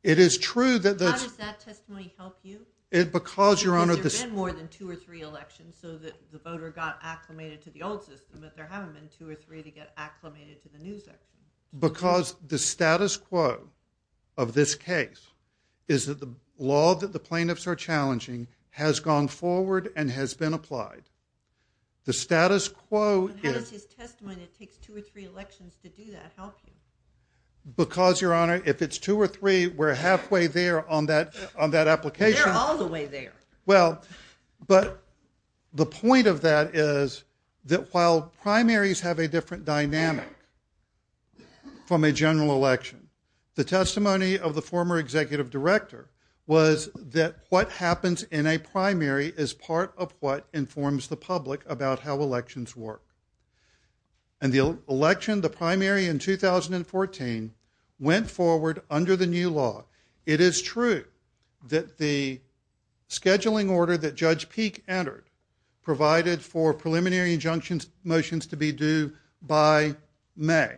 It is true that How did that testimony help you? Because there have been more than two or three elections, so that the voter got acclimated to the old system, but there haven't been two or three to get acclimated to the new system. Because the status quo of this case is that the law that the plaintiffs are challenging has gone forward and has been applied. The status quo How did this testimony that takes two or three elections to do that help you? Because, Your Honor, if it's two or three, we're halfway there on that application. They're all the way there. Well, but the point of that is that while primaries have a different dynamic from a general election, the testimony of the former executive director was that what happens in a primary is part of what informs the public about how elections work. And the election, the primary in 2014 went forward under the new law. It is true that the scheduling order that Judge Peek entered provided for preliminary injunction motions to be due by May.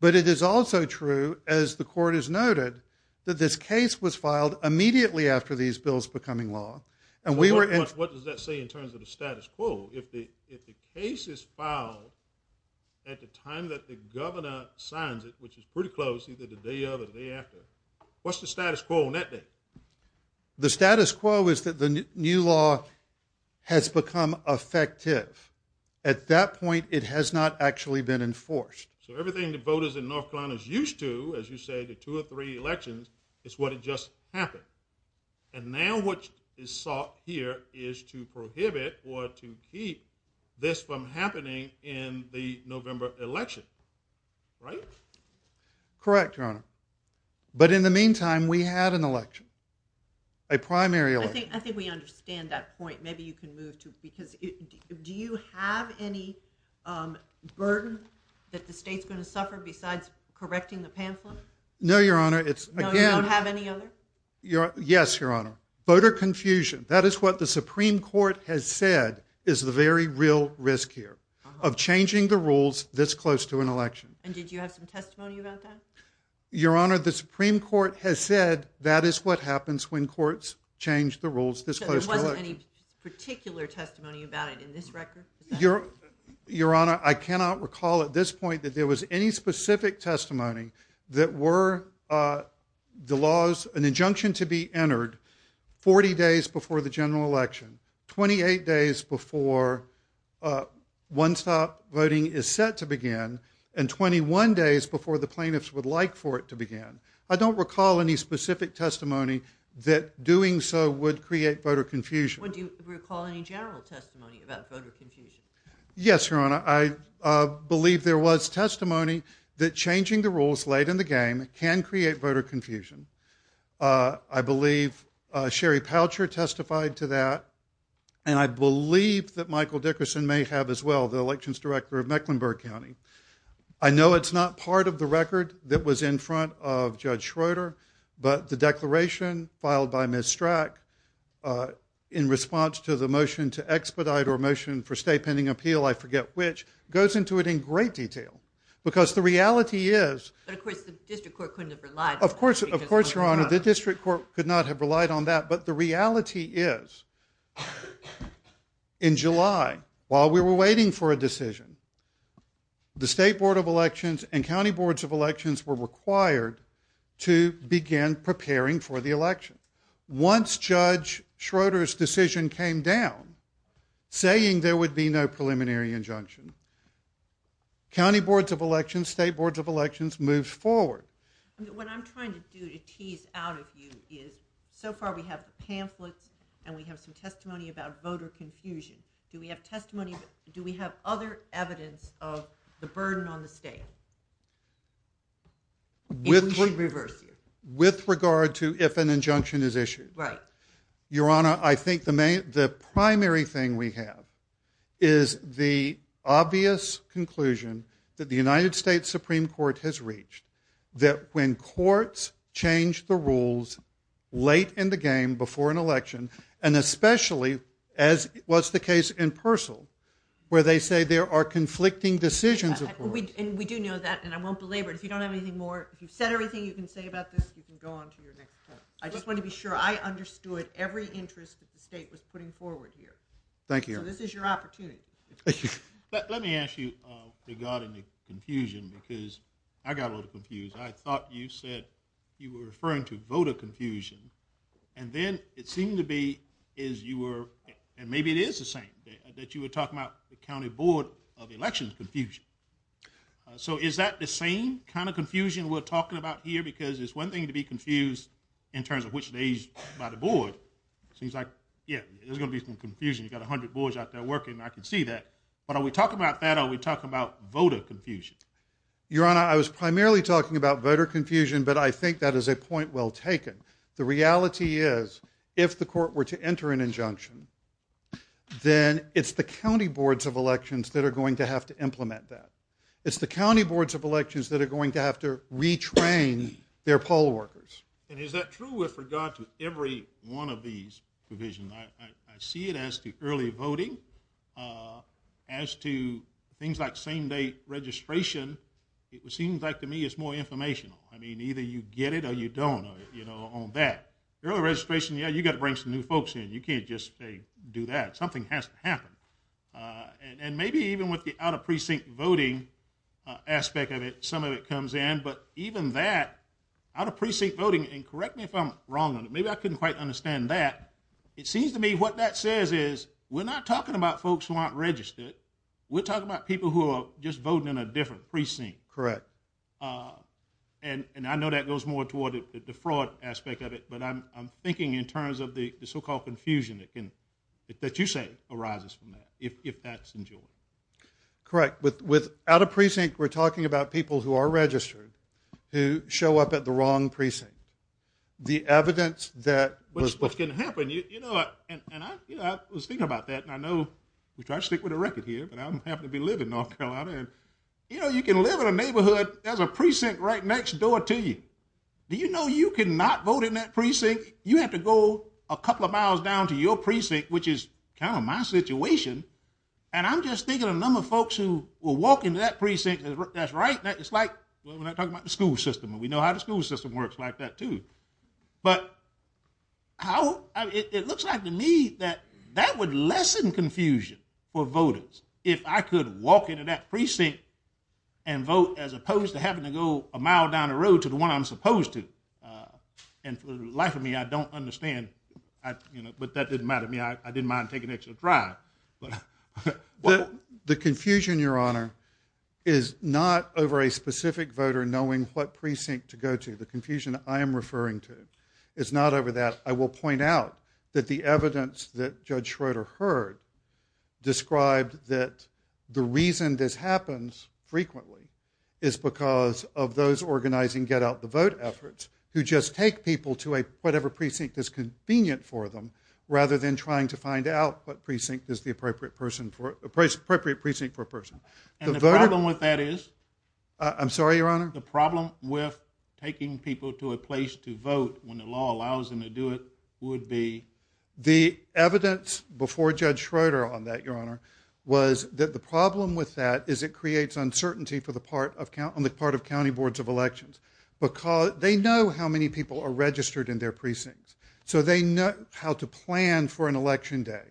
But it is also true, as the court has noted, that this case was filed immediately after these bills becoming law. What does that say in terms of the status quo? If the case is filed at the time that the governor signs it, which is pretty close, either the day of or the day after, what's the status quo on that day? The status quo is that the new law has become effective. At that point, it has not actually been enforced. So everything the voters in North Carolina are used to, as you say, the two or three elections, is what had just happened. And now what is sought here is to prohibit or to keep this from happening in the November election. Right? Correct, Your Honor. But in the meantime, we have an election. A primary election. I think we understand that point. Maybe you can move to it. Do you have any burdens that the state's going to suffer besides correcting the pamphlets? No, Your Honor. Yes, Your Honor. Voter confusion. That is what the Supreme Court has said is the very real risk here of changing the rules this close to an election. And did you have some testimony about that? Your Honor, the Supreme Court has said that is what happens when courts change the rules this close to an election. So there wasn't any particular testimony about it in this record? Your Honor, I cannot recall at this point that there was any specific testimony that were the laws, an injunction to be entered 40 days before the general election, 28 days before one-stop voting is set to begin, and 21 days before the plaintiffs would like for it to begin. I don't recall any specific testimony that doing so would create voter confusion. Would you recall any general testimony about voter confusion? Yes, Your Honor. I believe there was testimony that changing the rules late in the game can create voter confusion. I believe Sherry Poucher testified to that, and I believe that Michael Dickerson may have as well, the elections director of Mecklenburg County. I know it's not part of the record that was in front of Judge Schroeder, but the declaration filed by Ms. Strack in response to the motion to expedite or motion for state pending appeal, I forget which, goes into it in great detail, because the reality is But of course the district court couldn't have relied Of course, Your Honor, the district court could not have relied on that, but the reality is in July, while we were waiting for a decision, the State Board of Elections and County Boards of Elections were required to begin preparing for the election. Once Judge Schroeder's decision came down, saying there would be no preliminary injunction, County Boards of Elections, State Boards of Elections moved forward. What I'm trying to do to tease out of you is so far we have the pamphlets and we have some testimony about voter confusion. Do we have testimony, do we have other evidence of the burden on the state? With regard to if an injunction is issued. Your Honor, I think the primary thing we have is the obvious conclusion that the United States Supreme Court has reached, that when courts change the rules late in the game, before an election, and especially as was the case in Persil, where they say there are conflicting decisions and we do know that, and I won't belabor it. If you don't have anything more, if you've said everything you can say about this, you can go on to your next court. I just want to be sure I understood every interest that the state was putting forward here. So this is your opportunity. Thank you. Let me ask you regarding the confusion because I got a little confused. I thought you said you were referring to voter confusion and then it seemed to be as you were, and maybe it is the same, that you were talking about the County Board of Elections confusion. So is that the same kind of confusion we're talking about here because it's one thing to be confused in terms of which days by the board. It seems like, yeah, there's going to be some confusion. You've got a hundred boards out there working. I can see that. But are we talking about that or are we talking about voter confusion? Your Honor, I was primarily talking about voter confusion, but I think that is a point well taken. The reality is, if the court were to enter an injunction, then it's the County Boards of Elections that are going to have to implement that. It's the County Boards of Elections that are going to have to retrain their poll workers. And is that true with regard to every one of these provisions? I see it as the early voting. As to things like same-day registration, it seems like to me it's more informational. I mean, either you get it or you don't on that. Early registration, yeah, you've got to bring some new folks in. You can't just do that. Something has to happen. And maybe even with the out-of-precinct voting aspect of it, some of it comes in, but even that, out-of-precinct voting, and correct me if I'm wrong on it, maybe I couldn't quite understand that, it seems to me what that says is we're not talking about folks who aren't registered. We're talking about people who are just voting in a different precinct. Correct. And I know that goes more toward the fraud aspect of it, but I'm thinking in terms of the so-called confusion that you're saying arises from that, if that's true. Correct. With out-of-precinct we're talking about people who are registered who show up at the wrong precinct. The evidence that... What's going to happen, you know, and I was thinking about that, and I know, which I stick with the record here, but I don't happen to be living in North Carolina. You know, you can live in a neighborhood that has a precinct right next door to you. Do you know you cannot vote in that precinct? You have to go a couple of miles down to your precinct, which is kind of my situation, and I'm just thinking a number of folks who will walk into that precinct, that's right, it's like when I talk about the school system, and we know how the school system works like that too. But how... It looks like to me that that would lessen confusion for voters if I could walk into that precinct and vote as opposed to having to go a mile down the road to the precinct, which I know I'm supposed to. And for the life of me, I don't understand, you know, but that doesn't matter to me. I didn't mind taking an extra try. But... The confusion, Your Honor, is not over a specific voter knowing what precinct to go to. The confusion I am referring to is not over that. I will point out that the evidence that Judge Schroeder heard described that the reason this happens frequently is because of those organizing Get Out the Vote efforts who just take people to whatever precinct is convenient for them rather than trying to find out what precinct is the appropriate precinct for a person. And the problem with that is... I'm sorry, Your Honor? The problem with taking people to a place to vote when the law allows them to do it would be... The evidence before Judge Schroeder on that, Your Honor, was that the problem with that is it creates uncertainty on the part of county boards of elections. Because they know how many people are registered in their precincts. So they know how to plan for an election day.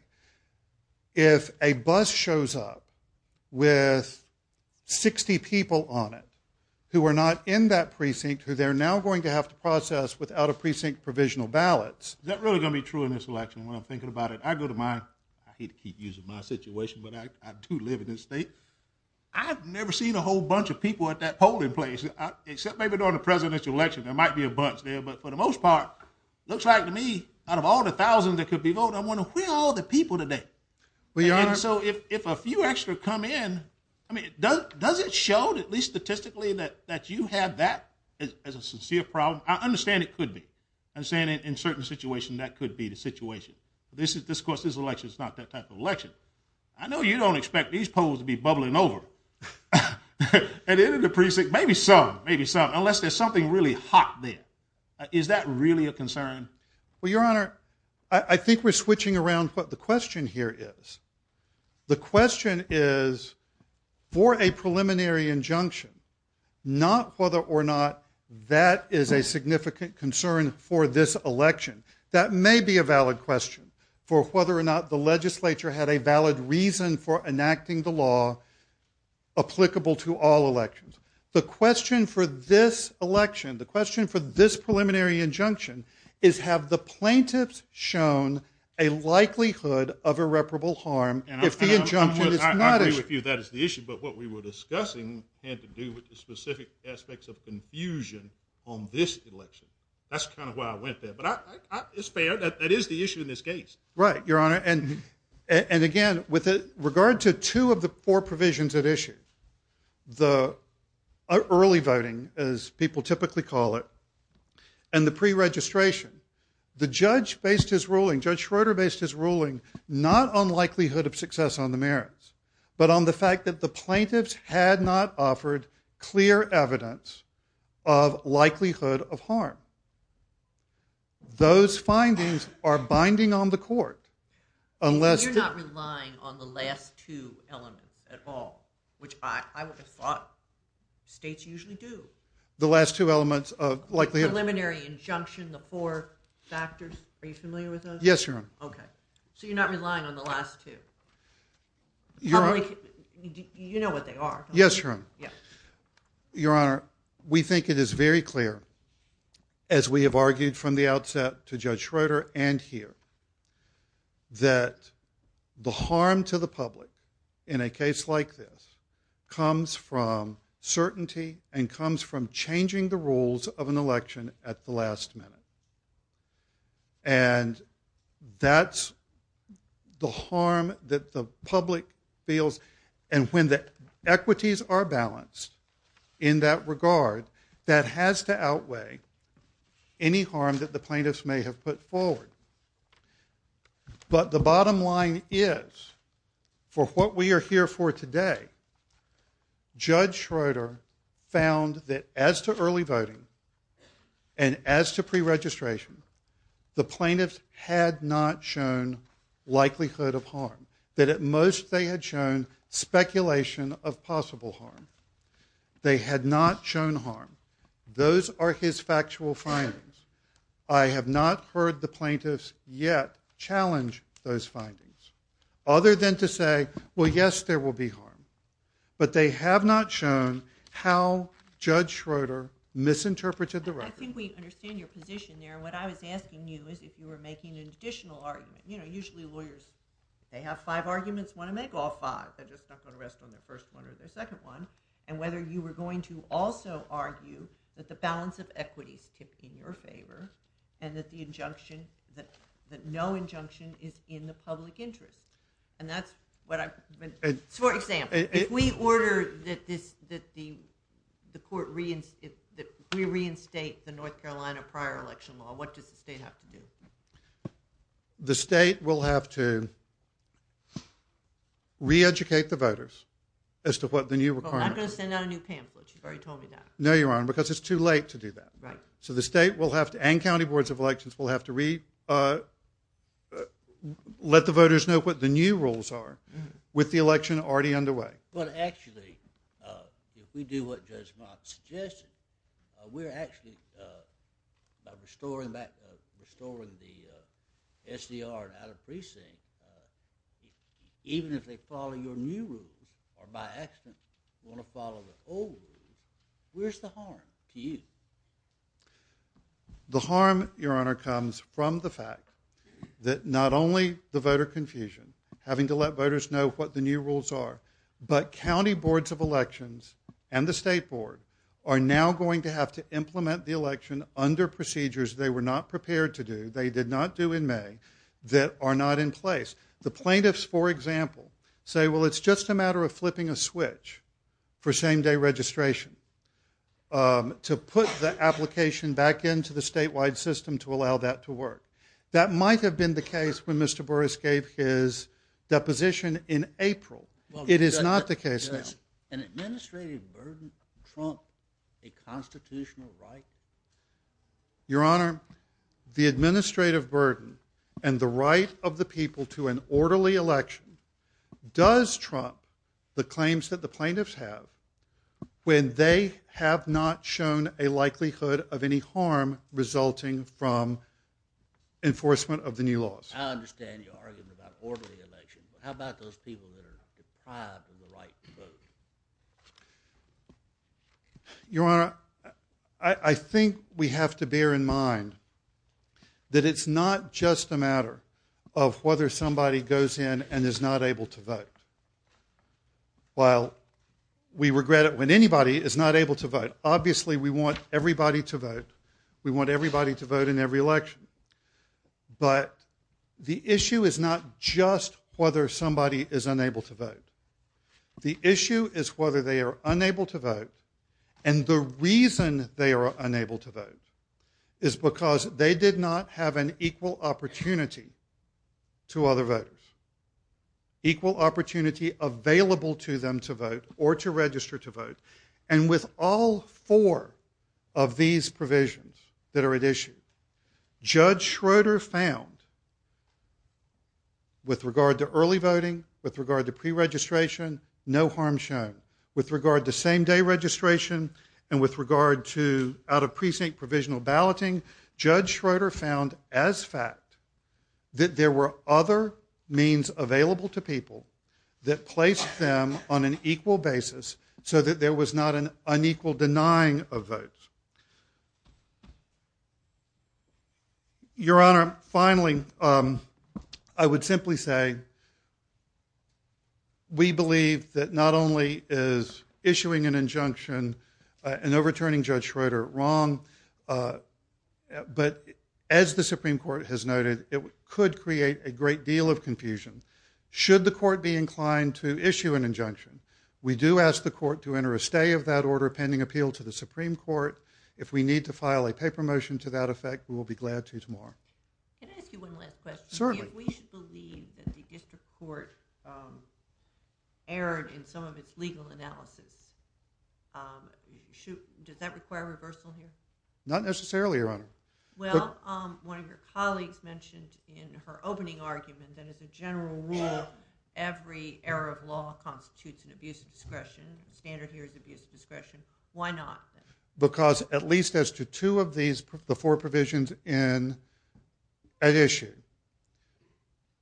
If a bus shows up with 60 people on it who are not in that precinct, they're now going to have to process without a precinct provisional ballots... Is that really going to be true in this election when I'm thinking about it? I go to my... I hate to keep using my situation, but I do live in this state. I've never seen a whole bunch of people at that polling place except maybe during the presidential election. There might be a bunch. But for the most part, it looks like to me, out of all the thousands that could be voting, I want to win all the people today. And so if a few extra come in, does it show, at least statistically, that you have that as a sincere problem? I understand it could be. I'm saying in certain situations that could be the situation. Of course, this election is not that type of election. I know you don't expect these polls to be bubbling over. At the end of the precinct, maybe some, maybe some, unless there's something really hot there. Is that really a concern? Well, Your Honor, I think we're switching around what the question here is. The question is for a preliminary injunction, not whether or not that is a significant concern for this election. That may be a valid question for whether or not the legislature had a valid reason for enacting the law applicable to all elections. The question for this election, the question for this preliminary injunction is have the plaintiffs shown a likelihood of irreparable harm if the injunction is not... I agree with you. That is the issue. But what we were discussing had to do with the specific aspects of confusion on this election. That's kind of why I went there. It's fair. That is the issue in this case. Right, Your Honor. Again, with regard to two of the four provisions at issue, the early voting, as people typically call it, and the pre-registration, the judge based his ruling, Judge Schroeder based his ruling not on likelihood of success on the merits, but on the fact that the plaintiffs had not offered clear evidence of likelihood of harm. Those findings are binding on the court unless... You're not relying on the last two elements at all, which I would have thought states usually do. The last two elements of likelihood... Preliminary injunction, the four factors, are you familiar with those? Yes, Your Honor. Your Honor... You know what they are. Yes, Your Honor. Your Honor, we think it is very clear, as we have argued from the outset to Judge Schroeder and here, that the harm to the public in a case like this comes from certainty and comes from changing the rules of an election at the last minute. And that's the harm that the public feels, and when the equities are balanced in that regard, that has to outweigh any harm that the plaintiffs may have put forward. But the bottom line is, for what we are here for today, Judge Schroeder found that as to early voting and as to preregistration, the plaintiffs had not shown likelihood of harm. That at most they had shown speculation of possible harm. They had not shown harm. Those are his factual findings. I have not heard the plaintiffs yet challenge those findings. Other than to say, well, yes, there will be harm. But they have not shown how Judge Schroeder misinterpreted the record. I think we understand your position there. What I was asking you is if you were making an additional argument. Usually lawyers, they have five arguments, want to make all five. They just don't want to rest on the first one or the second one. And whether you were going to also argue that the balance of equity is in your favor and that no injunction is in the public interest. For example, if we order that the court reinstate the North Carolina prior election law, what does the state have to do? The state will have to reeducate the voters as to what the new requirements are. Well, I'm going to send out a new pamphlet. You've already told me that. No, Your Honor, because it's too late to do that. So the state and county boards of elections will have to let the voters know what the new rules are with the election already underway. Well, actually, if we do what Judge Mott suggested, we're actually restoring the SDR out of precinct. Even if they follow your new rules or by accident want to follow the old rules, where's the harm to you? The harm, Your Honor, comes from the fact that not only the voter confusion, having to let voters know what the new rules are, but county boards of elections and the state board are now going to have to implement the election under procedures they were not prepared to do, they did not do in May, that are not in place. The plaintiffs, for example, say, well, it's just a matter of flipping a switch for same-day registration to put the application back into the statewide system to allow that to work. That might have been the case when Mr. Burris gave his deposition in April. It is not the case now. An administrative burden trump a constitutional right? Your Honor, the administrative burden and the right of the people to an orderly election does trump the claims that the plaintiffs have when they have not shown a likelihood of any harm resulting from enforcement of the new laws. I understand your argument about orderly elections, but how about those people that are deprived of the right to vote? Your Honor, I think we have to bear in mind that it's not just a matter of whether somebody goes in and is not able to vote. While we regret it when anybody is not able to vote, obviously we want everybody to vote. We want everybody to vote in every election. But the issue is not just whether somebody is unable to vote. The issue is whether they are unable to vote. And the reason they are unable to vote is because they did not have an equal opportunity to other voters. Equal opportunity available to them to vote or to register to vote. And with all four of these provisions that are at issue, Judge Schroeder found with regard to early voting, with regard to the same day registration, and with regard to out-of-precinct provisional balloting, Judge Schroeder found as fact that there were other means available to people that placed them on an equal basis so that there was not an unequal denying of votes. Your Honor, finally, I would simply say we believe that not only is issuing an injunction and overturning Judge Schroeder wrong, but as the Supreme Court has noted, it could create a great deal of confusion should the Court be inclined to issue an injunction. We do ask the Court to enter a stay of that order pending appeal to the Supreme Court. If we need to file a paper motion to that effect, we'll be glad to tomorrow. Can I ask you one last question? Certainly. Do you believe that the District Court erred in some of its legal analysis? Does that require reversal here? Not necessarily, Your Honor. One of your colleagues mentioned in her opening argument that as a general rule, every error of law constitutes an abuse of discretion. The standard here is abuse of discretion. Why not? Because at least as to two of the four provisions in that issue,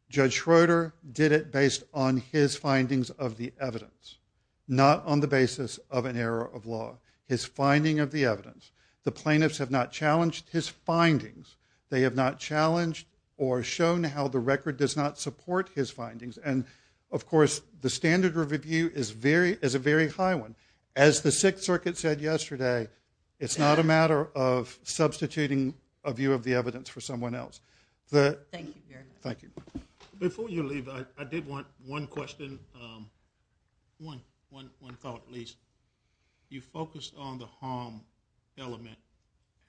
Judge Schroeder did it based on his findings of the evidence, not on the basis of an error of law. His finding of the evidence. The plaintiffs have not challenged his findings. They have not challenged or shown how the record does not support his findings. Of course, the standard of review is a very high one. As the Sixth Circuit said yesterday, it's not a matter of substituting a view of the evidence for someone else. Thank you. Before you leave, I did want one question. One at least. You focused on the harm element,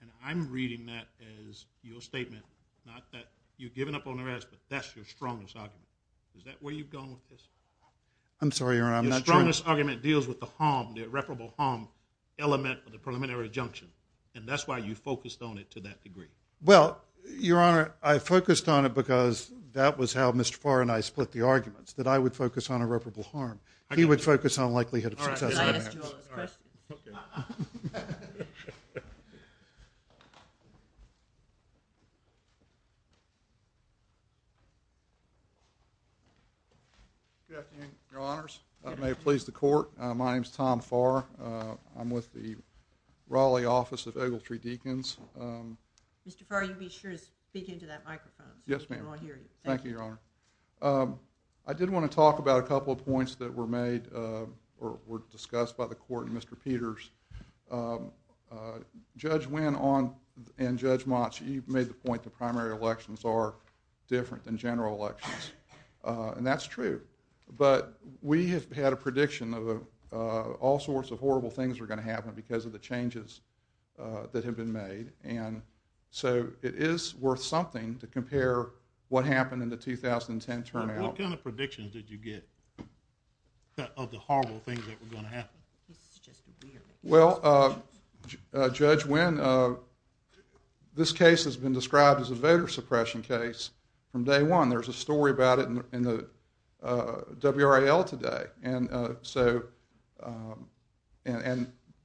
and I'm reading that as your statement, not that you've given up on the rest, but that's your strongest argument. Is that where you've gone with this? Your strongest argument deals with the irreparable harm element of the preliminary injunction, and that's why you focused on it to that degree. Your Honor, I focused on it because that was how Mr. Farr and I split the arguments, that I would focus on irreparable harm. He would focus on likelihood of success. Your Honors, if that may please the Court, my name is Tom Farr. I'm with the Republicans. Mr. Farr, you be sure to speak into that microphone. Yes, ma'am. I did want to talk about a couple of points that were made or were discussed by the Court and Mr. Peters. Judge Wynn and Judge Motsch, you made the point that primary elections are different than general elections, and that's true, but we had a prediction of all sorts of horrible things were going to happen because of the changes that had been made, and so it is worth something to compare what happened in the 2010 turnout. What kind of predictions did you get of the horrible things that were going to happen? Well, Judge Wynn, this case has been described as a voter suppression case from day one. There's a story about it in the WRAL today, and so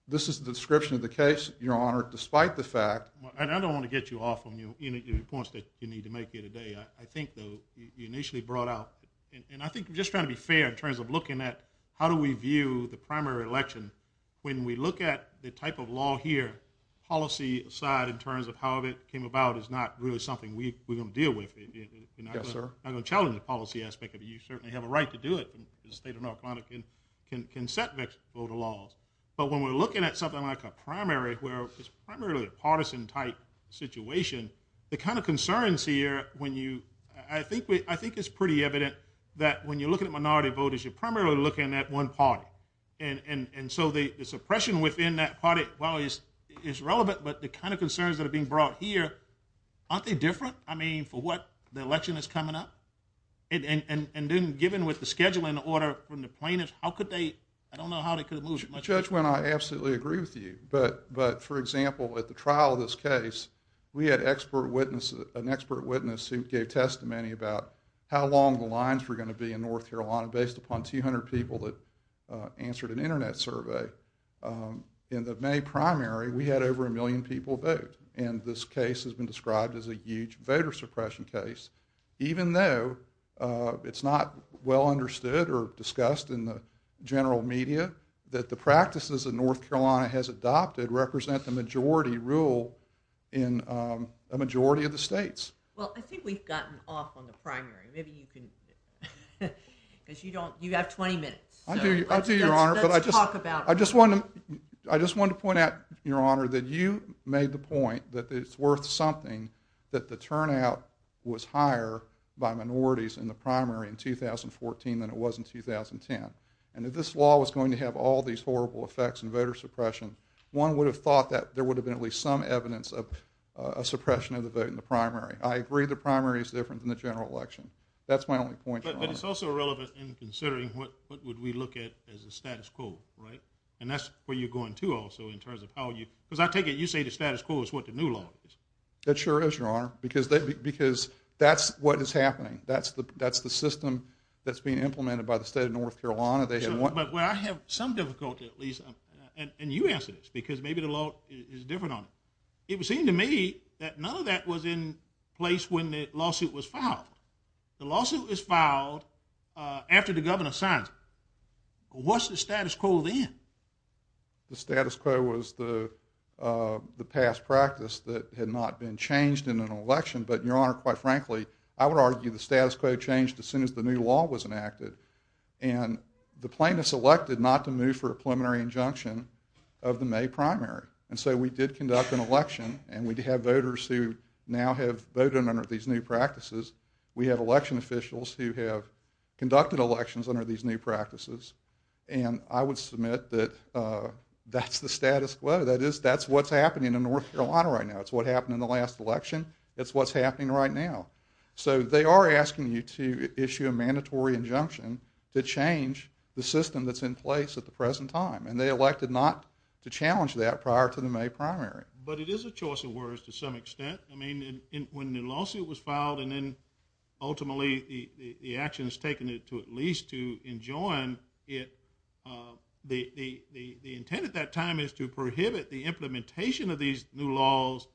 this is the description of the case, Your Honor, despite the fact... And I don't want to get you off on any of the points that you need to make here today. I think you initially brought out, and I think just trying to be fair in terms of looking at how do we view the primary election when we look at the type of law here, policy side in terms of how it came about is not really something we're going to deal with. Yes, sir. I'm going to challenge the policy aspect of it. You certainly have a right to do it. The state of North Carolina can set their voter laws, but when we're looking at something like a primary where it's primarily a partisan type situation, the kind of concerns here when you... I think it's pretty evident that when you're looking at minority voters, you're primarily looking at one party, and so the suppression within that party, well, is relevant, but the kind of concerns that are being brought here, aren't they different? I mean, for what? The election is coming up? And then given with the schedule and the order from the plaintiffs, how could they... I don't know how they could have moved it. Judge Wynne, I absolutely agree with you, but for example, at the trial of this case, we had an expert witness who gave testimony about how long the lines were going to be in North Carolina based upon 200 people that answered an internet survey. In the May primary, we had over a million people vote, and this case has been described as a huge voter suppression case, even though it's not well understood or discussed in the general media, that the practices that North Carolina has adopted represent the majority rule in a majority of the states. Well, I think we've gotten off on the primary. Maybe you can... Because you don't... You've got 20 minutes. I do, Your Honor, but I just... Let's talk about it. I just wanted to point out, Your Honor, that you made the point that it's worth something that the turnout was higher by minorities in the primary in 2014 than it was in 2010. And if this law was going to have all these horrible effects in voter suppression, one would have thought that there would have been at least some evidence of a suppression of the vote in the primary. I agree the primary is different than the general election. That's my only point, Your Honor. But it's also relevant in considering what would we look at as a status quo, right? And that's where you're going, too, also, in terms of how you... Because I take it you say the status quo law. That sure is, Your Honor, because that's what is happening. That's the system that's being implemented by the state of North Carolina. But where I have some difficulty, at least, and you answer this, because maybe the law is different on it. It would seem to me that none of that was in place when the lawsuit was filed. The lawsuit was filed after the governor signed it. What's the status quo then? The status quo was the past practice that had not been changed in an election. But, Your Honor, quite frankly, I would argue the status quo changed as soon as the new law was enacted. And the plaintiffs elected not to move for a preliminary injunction of the May primary. And so we did conduct an election, and we have voters who now have voted under these new practices. We have election officials who have conducted elections under these new practices. And I would submit that that's the status quo. That's what's happening in North Carolina right now. That's what happened in the last election. That's what's happening right now. So they are asking you to issue a mandatory injunction to change the system that's in place at the present time. And they elected not to challenge that prior to the May primary. But it is a choice of words to some extent. I mean, when the lawsuit was filed, and then ultimately the action has taken it to at least to enjoin it, the intent at that time is to prohibit the implementation of these new laws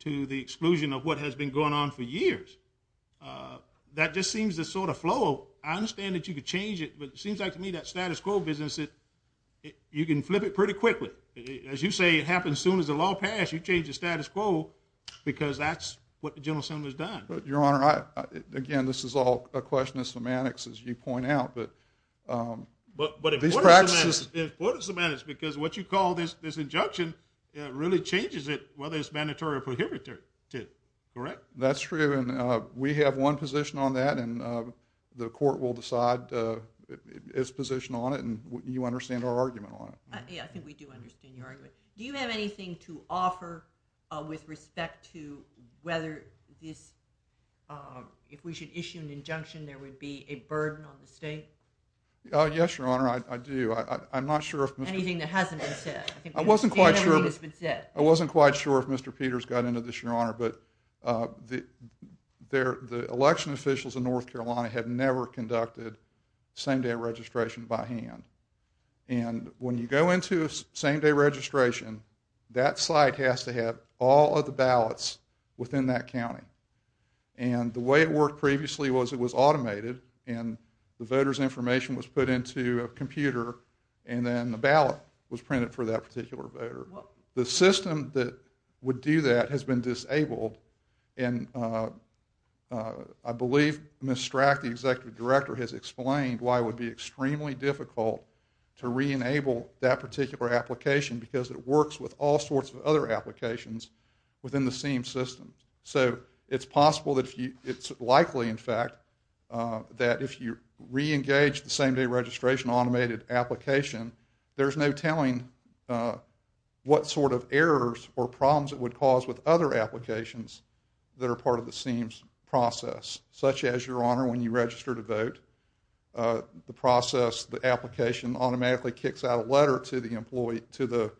to the exclusion of what has been going on for years. That just seems to sort of flow. I understand that you could change it, but it seems like to me that status quo business that you can flip it pretty quickly. As you say, it happens soon as the law passes, you change the status quo because that's what the General Assembly has done. Your Honor, again, this is all a question of semantics, as you point out. But if court is to manage, because what you call this injunction, it really changes it whether it's mandatory or prohibitive, correct? That's true, and we have one position on that, and the court will decide its position on it, and you understand our argument on it. Yeah, I think we do understand your argument. Do you have anything to offer with respect to whether if we should issue an injunction there would be a burden on the state? Yes, Your Honor, I do. I'm not sure if Mr. I wasn't quite sure if Mr. Peters got into this, Your Honor, but the election officials in North Carolina had never conducted same-day registration by hand. And when you go into a same-day registration, that site has to have all of the ballots within that county. And the way it worked previously was it was automated, and the voter's information was put into a computer, and then the ballot was printed for that particular voter. The system that would do that has been disabled, and I believe Ms. Strack, the Executive Director, has explained why it would be extremely difficult to re-enable that particular application because it works with all sorts of other applications within the state. It's possible that it's likely, in fact, that if you re-engage the same-day registration automated application, there's no telling what sort of errors or problems it would cause with other applications that are part of the SEAMS process, such as, Your Honor, when you register to vote, the process, the application automatically kicks out a letter to the employee, to the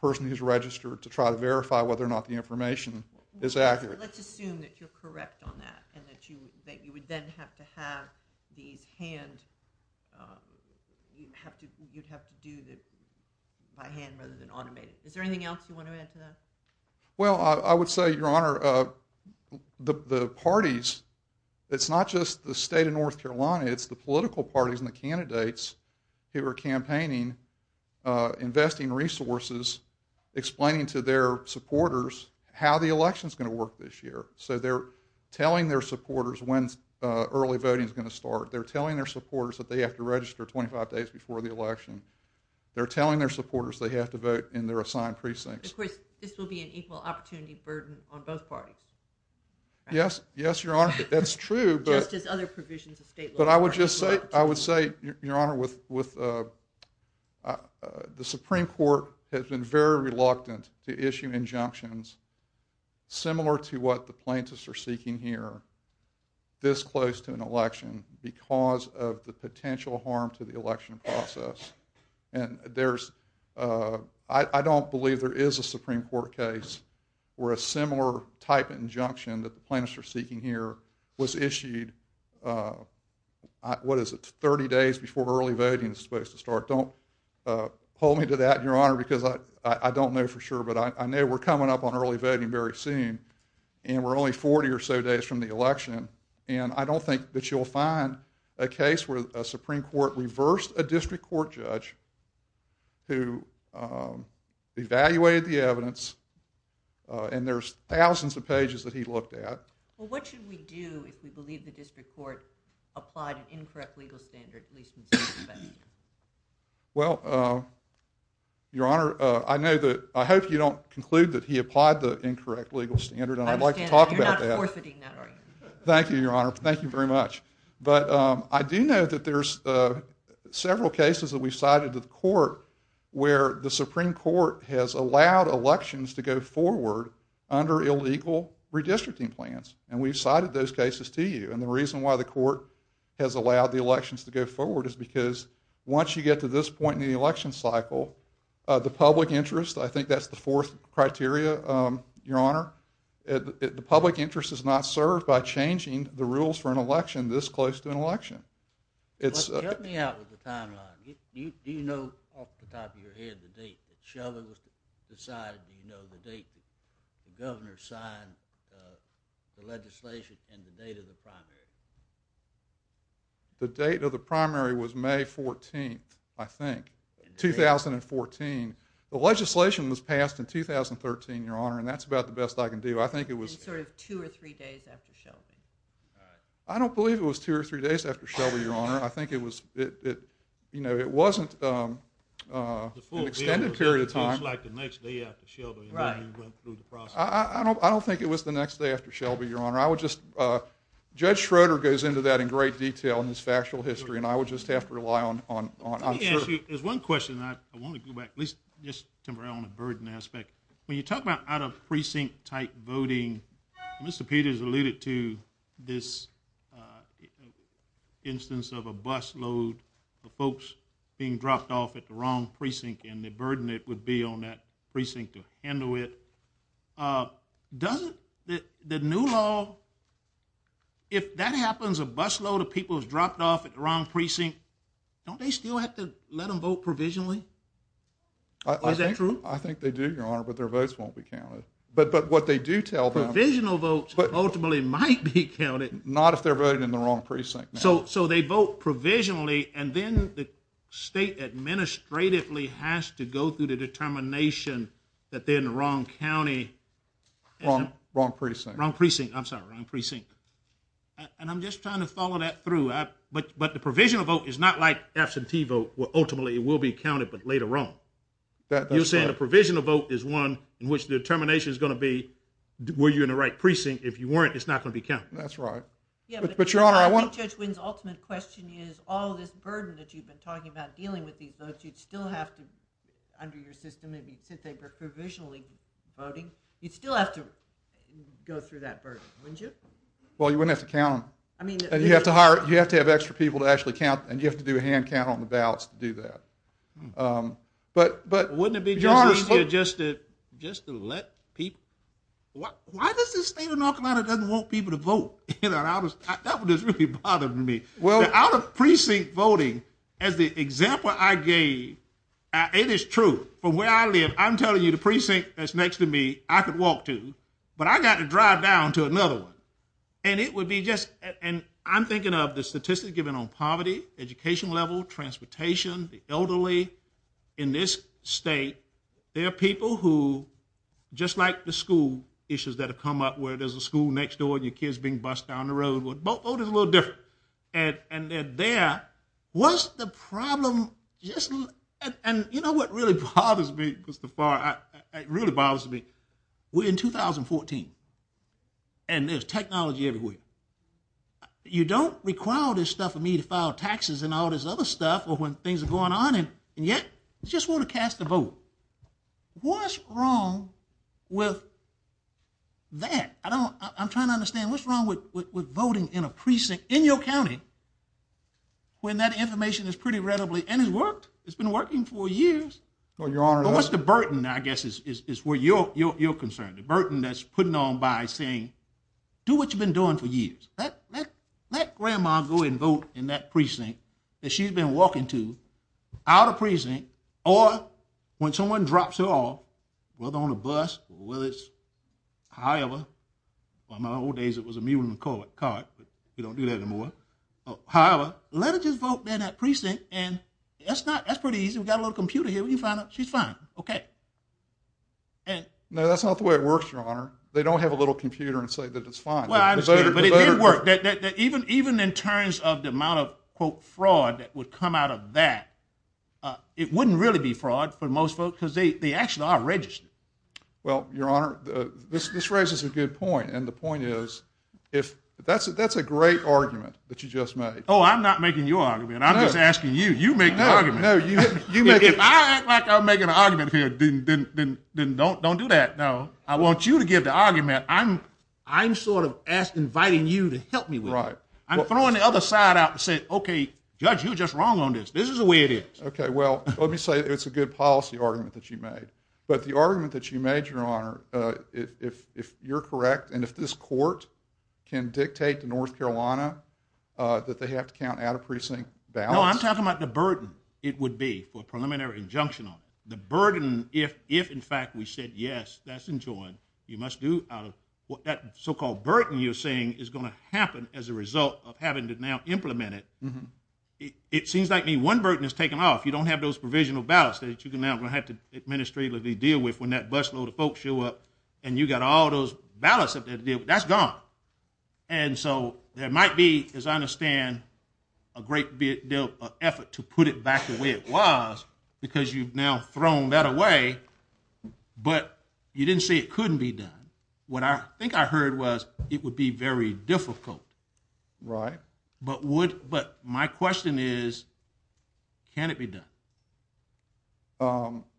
person who's registered to try to verify whether or not the information is accurate. Let's assume that you're correct on that, and that you would then have to have these hands, you'd have to do this by hand rather than automated. Is there anything else you want to add to that? Well, I would say, Your Honor, the parties, it's not just the state of North Carolina, it's the political parties and the candidates who are campaigning, investing resources, explaining to their supporters how the election's going to work this year. So they're telling their supporters when early voting's going to start. They're telling their supporters that they have to register 25 days before the election. They're telling their supporters they have to vote in their assigned precincts. Of course, this will be an equal opportunity burden on both parties. Yes, Your Honor, that's true. Yes, there's other provisions of state law. But I would say, Your Honor, with the Supreme Court has been very reluctant to issue injunctions similar to what the plaintiffs are seeking here this close to an election because of the potential harm to the election process. I don't believe there is a Supreme Court case where a similar type of injunction that the plaintiffs are seeking here was issued, what is it, 30 days before early voting is supposed to start? Don't hold me to that, Your Honor, because I don't know for sure, but I know we're coming up on early voting very soon and we're only 40 or so days from the election, and I don't think that you'll find a case where a Supreme Court reversed a district court judge who evaluated the evidence and there's thousands of pages that he looked at. Well, what should we do if we believe the district court applied an incorrect legal standard at least in this case? Well, Your Honor, I know that, I hope you don't conclude that he applied the incorrect legal standard, and I'd like to talk about that. Thank you, Your Honor. Thank you very much. But, I do know that there's several cases that we've cited to the court where the Supreme Court has allowed elections to go forward under illegal redistricting plans, and we've cited those cases to you, and the reason why the court has allowed the elections to go forward is because once you get to this point in the election cycle, the public interest, I think that's the fourth criteria, Your Honor, the public interest is not served by changing the rules for an election this close to an election. Help me out with the timeline. Do you know off the top of your head the date that Sheldon was decided, do you know the date the governor signed the legislation and the date of the primary? The date of the primary was May 14th, I think. The legislation was passed in 2013, Your Honor, and that's about the best I can do. I think it was... Two or three days after Sheldon. I don't believe it was two or three days after Sheldon, Your Honor. I think it was, you know, it wasn't an extended period of time. It seems like the next day after Sheldon. I don't think it was the next day after Shelby, Your Honor. I would just... Judge Schroeder goes into that in great detail in his factual history, and I would just have to rely on... There's one question I want to go back to, just to the burden aspect. When you talk about out-of-precinct-type voting, Mr. Peters alluded to this instance of a busload of folks being dropped off at the wrong precinct, and the burden it would be on that precinct to handle it. Does the new law... If that happens, a busload of people is dropped off at the wrong precinct, don't they still have to let them vote provisionally? Is that true? I think they do, Your Honor, but their votes won't be counted. But what they do tell them... Provisional votes ultimately might be So they vote provisionally, and then the state administratively has to go through the determination that they're in the wrong county... Wrong precinct. I'm sorry, wrong precinct. And I'm just trying to follow that through. But the provisional vote is not like absentee vote, where ultimately it will be counted but later on. You're saying the provisional vote is one in which the determination is going to be, were you in the right precinct? If you weren't, it's not going to be counted. That's right. But Your Honor, I want... I think, Judge Wynne, the ultimate question is with all this burden that you've been talking about dealing with these votes, you'd still have to under your system, and you could say they're provisionally voting, you'd still have to go through that burden, wouldn't you? Well, you wouldn't have to count. And you'd have to have extra people to actually count, and you'd have to do a hand count on the ballots to do that. But... Just to let people... Why does the state of North Carolina doesn't want people to vote? That's what's really bothering me. The out-of-precinct voting, as the example I gave, it is true. From where I live, I'm telling you, the precinct that's next to me, I could walk to, but I've got to drive down to another one. And it would be just... I'm thinking of the statistics given on poverty, education level, transportation, the elderly. In this state, there are people who, just like the school issues that have come up, where there's a school next door and your kid's being bused down the road. Voting's a little different. And there, what's the problem? And you know what really bothers me? It really bothers me. We're in 2014. And there's technology everywhere. You don't require this stuff of me to file taxes and all this other stuff when things are going on, and yet, you just want to cast a vote. What's wrong with that? I'm trying to understand what's wrong with voting in a precinct in your county when that information is pretty readily... And it's worked. It's been working for years. What's the burden, I guess, is where you're concerned? The burden that's put on by saying, do what you've been doing for years. Let grandma go and vote in that precinct that she's been walking to out of precinct, or when someone drops her off, whether on a bus, whether it's a highway. In my old days, it was a mule and a cart, but we don't do that anymore. However, let her just vote in that precinct and that's pretty easy. We've got a little computer here. When you find out she's fine. Okay. No, that's not the way it works, Your Honor. They don't have a little computer and say that it's fine. But it did work. Even in terms of the amount of fraud that would come out of that, it wouldn't really be fraud for most folks, because they actually are registered. Well, Your Honor, this raises a good point, and the point is, that's a great argument that you just made. Oh, I'm not making you an argument. I'm just asking you. You make the argument. If I act like I'm making an argument here, then don't do that. No. I want you to give the argument. I'm sort of inviting you to help me with it. I'm throwing the other side out and saying, okay, judge, you're just wrong on this. This is the way it is. Okay. Well, let me say it's a good policy argument that you made. But the argument that you made, Your Honor, if you're correct, and if this court can dictate to North Carolina that they have to count out-of-precinct ballots... No, I'm talking about the burden it would be for preliminary injunctional. The burden if, in fact, we said, yes, that's enjoined, you must do what that so-called burden you're saying is going to happen as a result of having to now implement it. It seems like one burden is taken off. You don't have those provisional ballots that you're now going to have to administrate or deal with when that busload of folks show up and you've got all those ballots up there to deal with. That's gone. And so there might be, as I understand, a great deal of effort to put it back the way it was because you've now thrown that away, but you didn't say it couldn't be done. What I think I heard was it would be very difficult. Right. But my question is, can it be done?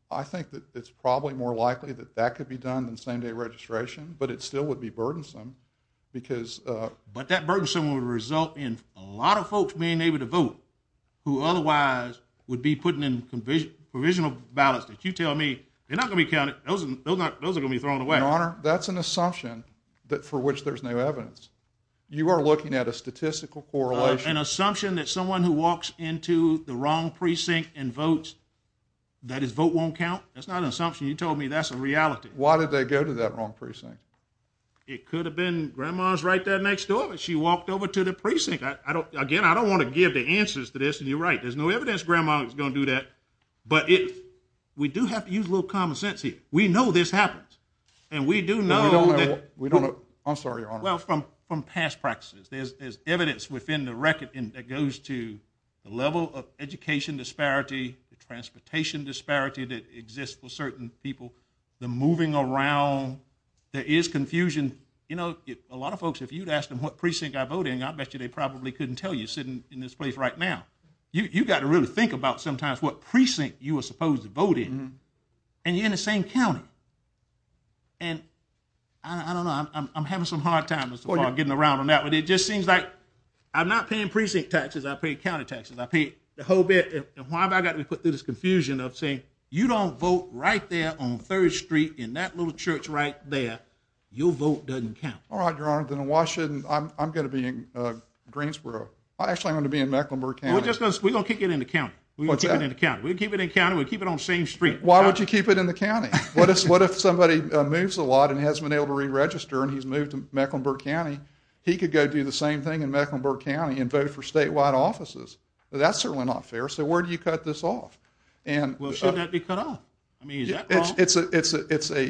I think that it's probably more likely that that could be done than same-day registration, but it still would be burdensome because... But that burdensome would result in a lot of folks being able to vote who otherwise would be putting in provisional ballots that you tell me, they're not going to be counted. Those are going to be thrown away. Your Honor, that's an assumption but for which there's no evidence. You are looking at a statistical correlation. An assumption that someone who walks into the wrong precinct and votes that his vote won't count? That's not an assumption. You told me that's a reality. Why did they go to that wrong precinct? It could have been Grandma's right there next door, but she walked over to the precinct. Again, I don't want to give the answers to this, and you're right. There's no evidence Grandma's going to do that. But we do have to use a little common sense here. We know this happens. And we do know that... I'm sorry, Your Honor. From past practices, there's evidence within the record that goes to the level of education disparity, the transportation disparity that exists for certain people, the moving around. There is confusion. A lot of folks, if you'd ask them what precinct they're voting, I bet you they probably couldn't tell you sitting in this place right now. You've got to really think about sometimes what precinct you are supposed to vote in. And you're in the same county. And... I don't know. I'm having some hard times getting around on that one. It just seems like I'm not paying precinct taxes. I pay county taxes. I pay the whole bit. And why have I got to put through this confusion of saying, you don't vote right there on 3rd Street in that little church right there. Your vote doesn't count. All right, Your Honor. Then in Washington, I'm going to be in Greensboro. I actually am going to be in Mecklenburg County. We're going to keep it in the county. We keep it in the county. We keep it on the same street. Why would you keep it in the county? What if somebody moves a lot and hasn't been able to re-register and he's moved to Mecklenburg County? He could go do the same thing in Mecklenburg County and vote for statewide offices. That's certainly not fair. So where do you cut this off? Well, shouldn't that be cut off? I mean, is that wrong?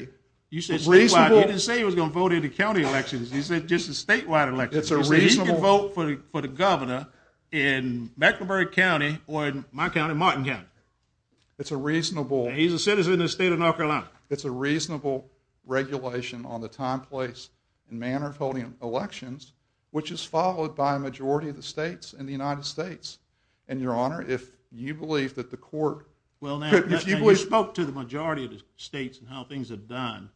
You said statewide. He didn't say he was going to vote in the county elections. He said just the statewide elections. He can vote for the governor in my county and Martin County. He's a citizen of the state of North Carolina. It's a reasonable regulation on the time, place and manner of holding elections which is followed by a majority of the states in the United States. Your Honor, if you believe that the court... If you spoke to the majority of the states and how things are done,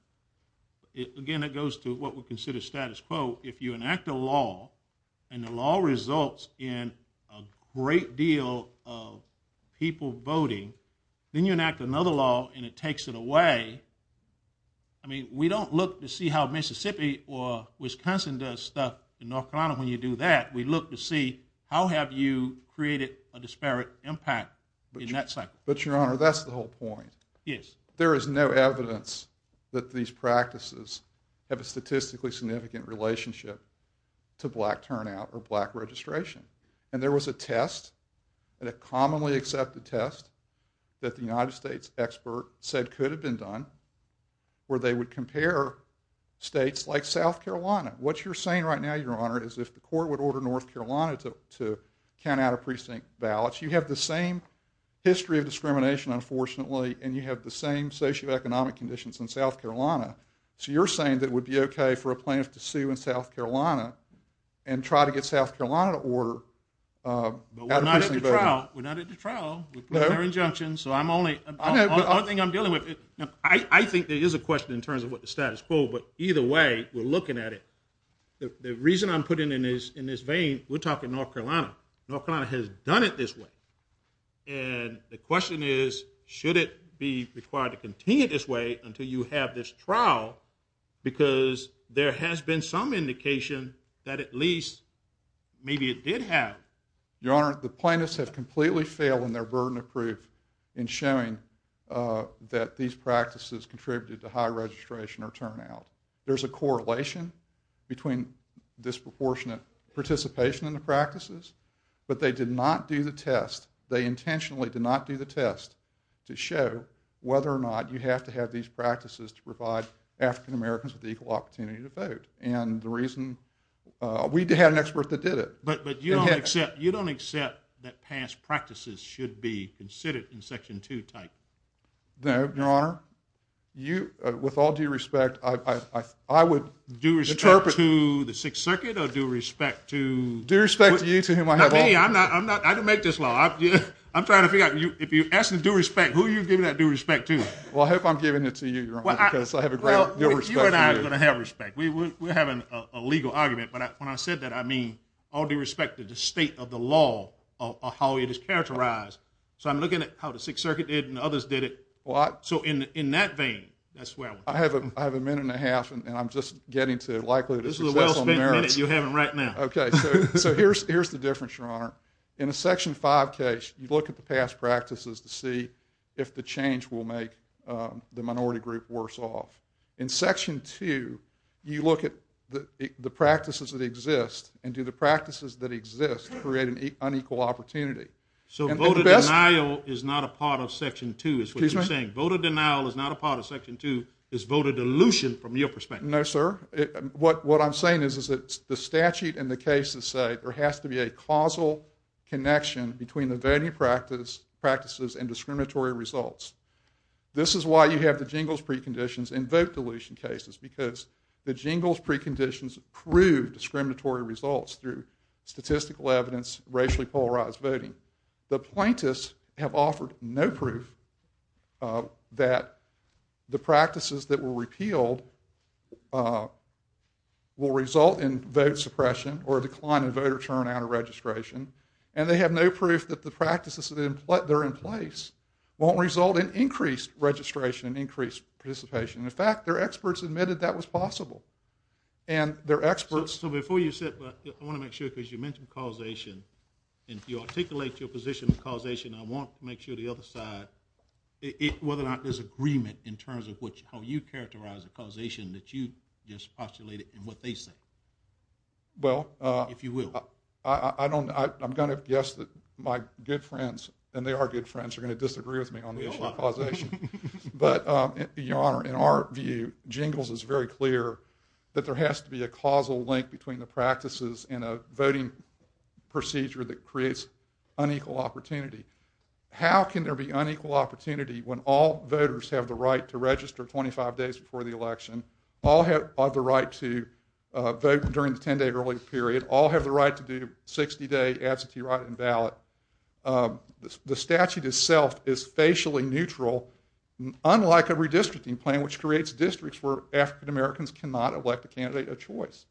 again, it goes to what we consider status quo. If you enact a law and the law results in a great deal of people voting, then you enact another law and it takes it away. I mean, we don't look to see how Mississippi or Wisconsin does stuff in North Carolina when you do that. We look to see how have you created a disparate impact in that cycle. But, Your Honor, that's the whole point. Yes. There is no evidence that these practices have a statistically significant relationship to black turnout or black registration. And there was a test, a commonly accepted test, that the United States expert said could have been done where they would compare states like South Carolina. What you're saying right now, Your Honor, is if the court would order North Carolina to count out of precinct ballots, you have the same history of discrimination, unfortunately, and you have the same socioeconomic conditions in South Carolina. So you're saying that it would be okay for a plaintiff to sue in South Carolina and try to get South Carolina to order out of precinct ballots. We're not at the trial. We're not at the trial. We're putting our injunction, so I'm only... The only thing I'm dealing with... I think there is a question in terms of what the status quo, but either way, we're looking at it. The reason I'm putting it in this vein, we're talking North Carolina. North Carolina has done it this way. And the question is, should it be required to continue this way until you have this trial because there has been some indication that at least maybe it did have. Your Honor, the plaintiffs have completely failed in their burden of proof in showing that these practices contributed to high registration or turnout. There's a correlation between disproportionate participation in the practices, but they did not do the test. They intentionally did not do the test to show whether or not you have to have these practices to provide African-Americans with equal opportunity to vote. And the reason... We had an expert that did it. But you don't accept that past practices should be considered in Section 2 type. No, Your Honor. With all due respect, I would interpret... Due respect to the Sixth Circuit or due respect to... Due respect to you to whom I have... I can make this law. I'm trying to figure out, if you ask me due respect, who are you giving that due respect to? Well, I hope I'm giving it to you, Your Honor, because I have a great deal of respect for you. You and I are going to have respect. We have a legal argument, but when I said that, I mean all due respect to the state of the law of how it is characterized. So I'm looking at how the Sixth Circuit did and others did it. So in that vein, that's where... I have a minute and a half, and I'm just getting to... This is a well-spent minute. You have it right now. Okay. So here's the difference, Your Honor. In a Section 5 case, you look at the past practices to see if the change will make the minority group worse off. In Section 2, you look at the practices that exist, and do the practices that exist create an unequal opportunity? So voter denial is not a part of Section 2, is what you're saying. Voter denial is not a part of Section 2. It's voter delusion from your perspective. No, sir. What I'm saying is that the statute and the cases say there has to be a causal connection between the voting practices and discriminatory results. This is why you have the Jingles preconditions in vote delusion cases, because the Jingles preconditions prove discriminatory results through statistical evidence, racially polarized voting. The plaintiffs have offered no proof that the practices that were repealed will result in vote suppression or decline in voter turnout or registration, and they have no proof that the practices that are in place won't result in increased registration and increased participation. In fact, their experts admitted that was possible. And their experts... So before you sit, I want to make sure, because you mentioned causation, and you articulate your position on causation, I want to make sure the other side, whether or not there's agreement in terms of how you characterize a causation that you just postulated in what they said. Well... I'm going to guess that my good friends, and they are good friends, are going to disagree with me on the issue of causation. But, Your Honor, in our view, Jingles is very clear that there has to be a causal link between the practices in a voting procedure that creates unequal opportunity. How can there be unequal opportunity when all voters have the right to register 25 days before the election, all have the right to vote during the 10-day early period, all have the right to do 60-day absentee write-in ballot. The statute itself is facially neutral, unlike a redistricting plan, which creates districts where African Americans cannot elect a candidate of choice.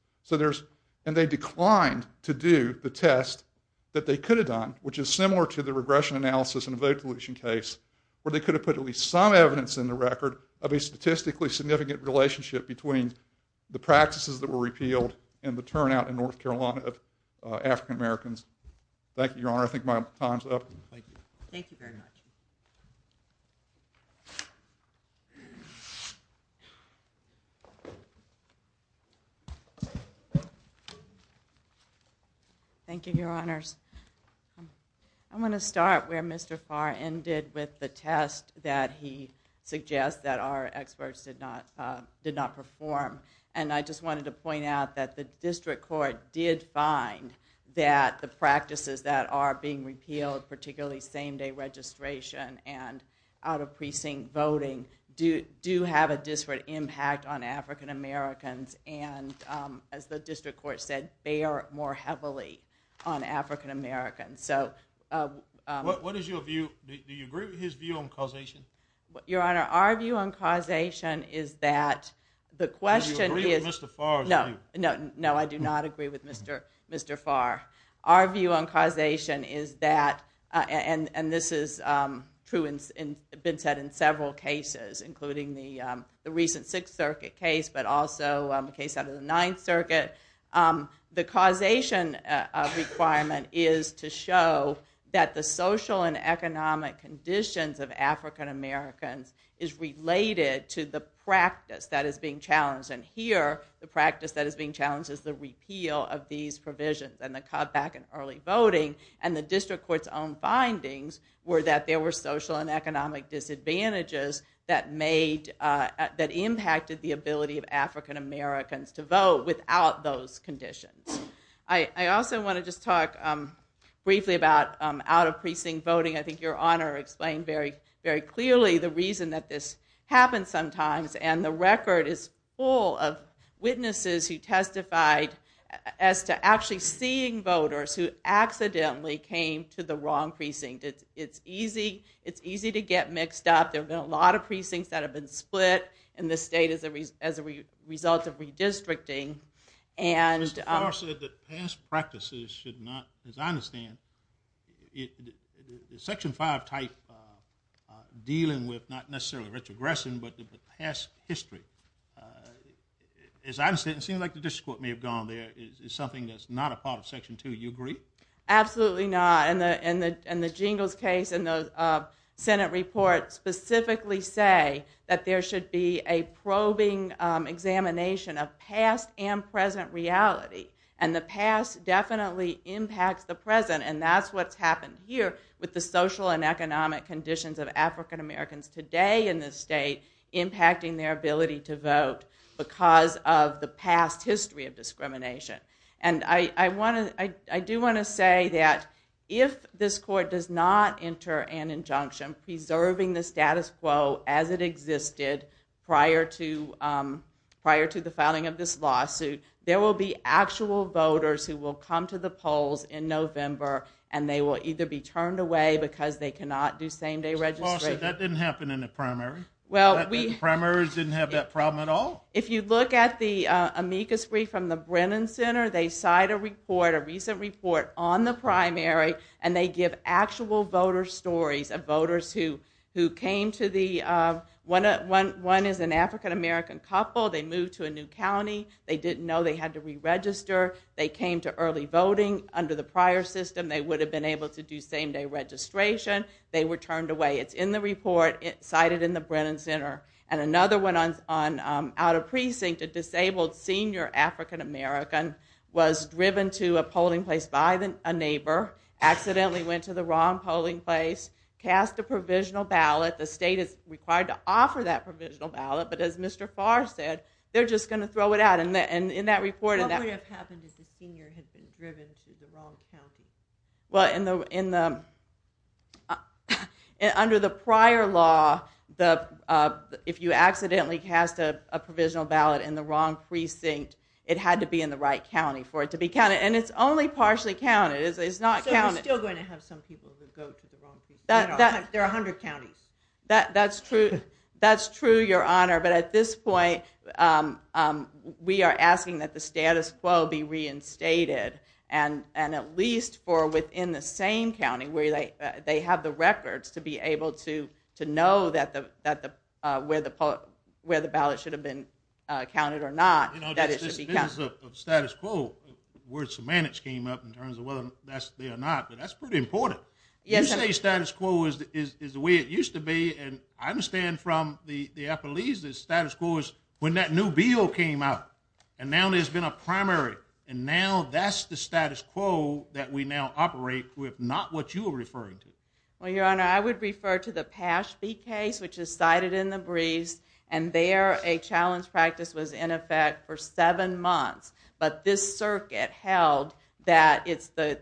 And they declined to do the test that they could have done, which is similar to the regression analysis in a vote deletion case, where they could have put at least some evidence in the record of a statistically significant relationship between the practices that were implemented by African Americans. Thank you, Your Honor. I think my time's up. Thank you. Thank you very much. Thank you, Your Honors. I want to start where Mr. Farr ended with the test that he suggests that our experts did not perform. And I just wanted to point out that the district court did find that the practices that are being repealed, particularly same-day registration and out-of-precinct voting, do have a disparate impact on African Americans. And as the district court said, they are more heavily on African Americans. What is your view? Do you agree with his view on causation? Your Honor, our view on causation is that the question No, I do not agree with Mr. Farr. Our view on causation is that, and this has been said in several cases, including the recent Sixth Circuit case, but also the case under the Ninth Circuit, the causation requirement is to show that the social and economic conditions of African Americans is related to the practice that is being challenged. And here, the practice that is being challenged is the repeal of these provisions and the cutback in early voting. And the district court's own findings were that there were social and economic disadvantages that made, that impacted the ability of African Americans to vote without those conditions. I also want to just talk briefly about out-of-precinct voting. I think Your Honor explained very clearly the reason that this happens sometimes, and the record is full of witnesses who testified as to actually seeing voters who accidentally came to the wrong precinct. It's easy to get mixed up. There have been a lot of precincts that have been split in the state as a result of redistricting. And... ...practices should not, as I understand, the Section 5 type dealing with, not necessarily retrogressing, but the past history. As I understand, it seems like the district court may have gone there. It's something that's not a part of Section 2. Do you agree? Absolutely not. And the Jingles case and the Senate report specifically say that there should be a probing examination of past and present reality. And the past definitely impacts the present, and that's what's happened here with the social and economic conditions of African Americans today in the state impacting their ability to vote because of the past history of discrimination. And I do want to say that if this court does not enter an injunction preserving the status quo as it existed prior to the filing of this lawsuit, there will be actual voters who will come to the polls in November and they will either be turned away because they cannot do same-day registration. That didn't happen in the primary. The primers didn't have that problem at all? If you look at the amicus brief from the Brennan Center, they cite a report, a recent report on the primary, and they give actual voter stories of voters who came to the... One is an African American couple. They moved to a new county. They didn't know they had to re-register. They came to early voting under the prior system. They would have been able to do same-day registration. They were turned away. It's in the report. It's cited in the Brennan Center. And another one out of precinct, a disabled senior African American was driven to a polling place by a neighbor, accidentally went to the wrong polling place, cast a provisional ballot. The state is required to offer that provisional ballot, but as Mr. Farr said, they're just going to throw it out. And in that report... What would have happened if the senior had been driven to the wrong county? Well, in the... Under the prior law, if you accidentally cast a provisional ballot in the wrong precinct, it had to be in the right county for it to be counted. And it's only partially counted. It's not counted. So we're still going to have some people that go to the wrong precinct. There are 100 counties. That's true. That's true, Your Honor. But at this point, we are asking that the status quo be reinstated. And at least for within the same county where they have the records to be able to know where the ballot should have been counted or not, that it should be counted. Status quo, word semantics came up in terms of whether that should be or not, but that's pretty important. You say status quo is the way it used to be, and I understand from the when that new bill came out. And now there's been a primary. And now that's the status quo that we now operate with, not what you are referring to. Well, Your Honor, I would refer to the Paschby case, which is cited in the brief, and there a challenge practice was in effect for seven months. But this circuit held that it's the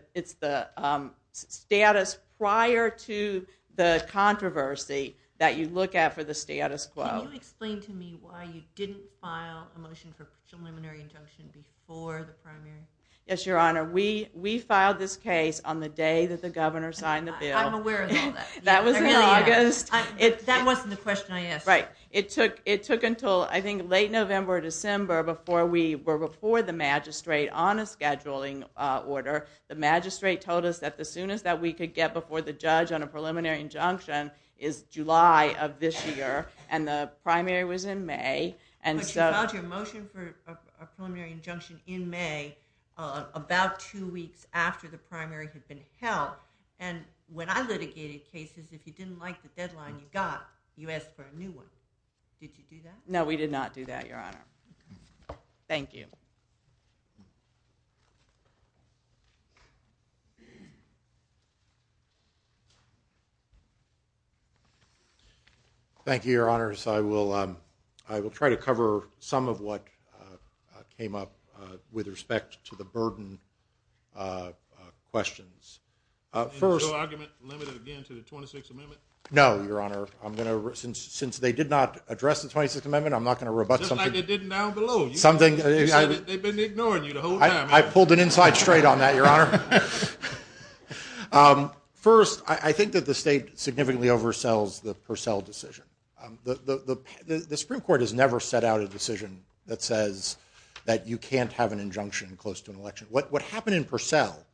status prior to the controversy that you look at for the status quo. Can you explain to me why you didn't file a motion for preliminary injunction before the primary? Yes, Your Honor. We filed this case on the day that the governor signed the bill. I'm aware of that. That was in August. That wasn't the question I asked. Right. It took until I think late November or December before we were before the magistrate on a scheduling order. The magistrate told us that the soonest that we could get before the judge on a preliminary injunction is July of this year. And the primary was in May. But you lodged a motion for a preliminary injunction in May about two weeks after the primary had been held. And when I litigated cases, if you didn't like the deadline you got, you asked for a new one. Did you do that? No, we did not do that, Your Honor. Thank you. Thank you, Your Honor. I will try to cover some of what came up with respect to the burden of questions. No argument limited again to the 26th Amendment? No, Your Honor. Since they did not address the 26th Amendment, I'm not going to rebut something. Just like they did down below. They've been ignoring you the whole time. I pulled an inside straight on that, Your Honor. First, I think that the state significantly oversells the Purcell decision. The Supreme Court has never set out a decision that says that you can't have an injunction close to an election. What happened in Purcell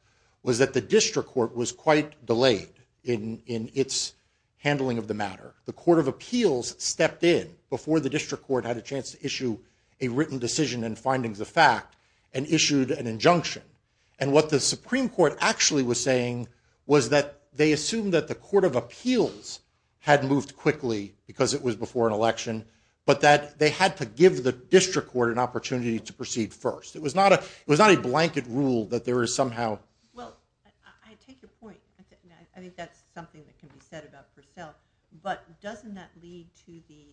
was that the District Court was quite delayed in its handling of the matter. The Court of Appeals stepped in before the District Court had a chance to issue a written decision and findings of fact and issued an injunction. And what the Supreme Court actually was saying was that they assumed that the Court of Appeals had moved quickly because it was before an election, but that they had to give the District Court an opportunity to proceed first. It was not a blanket rule that there is somehow... Well, I take your point. I think that's something that can be said about Purcell. But doesn't that lead to the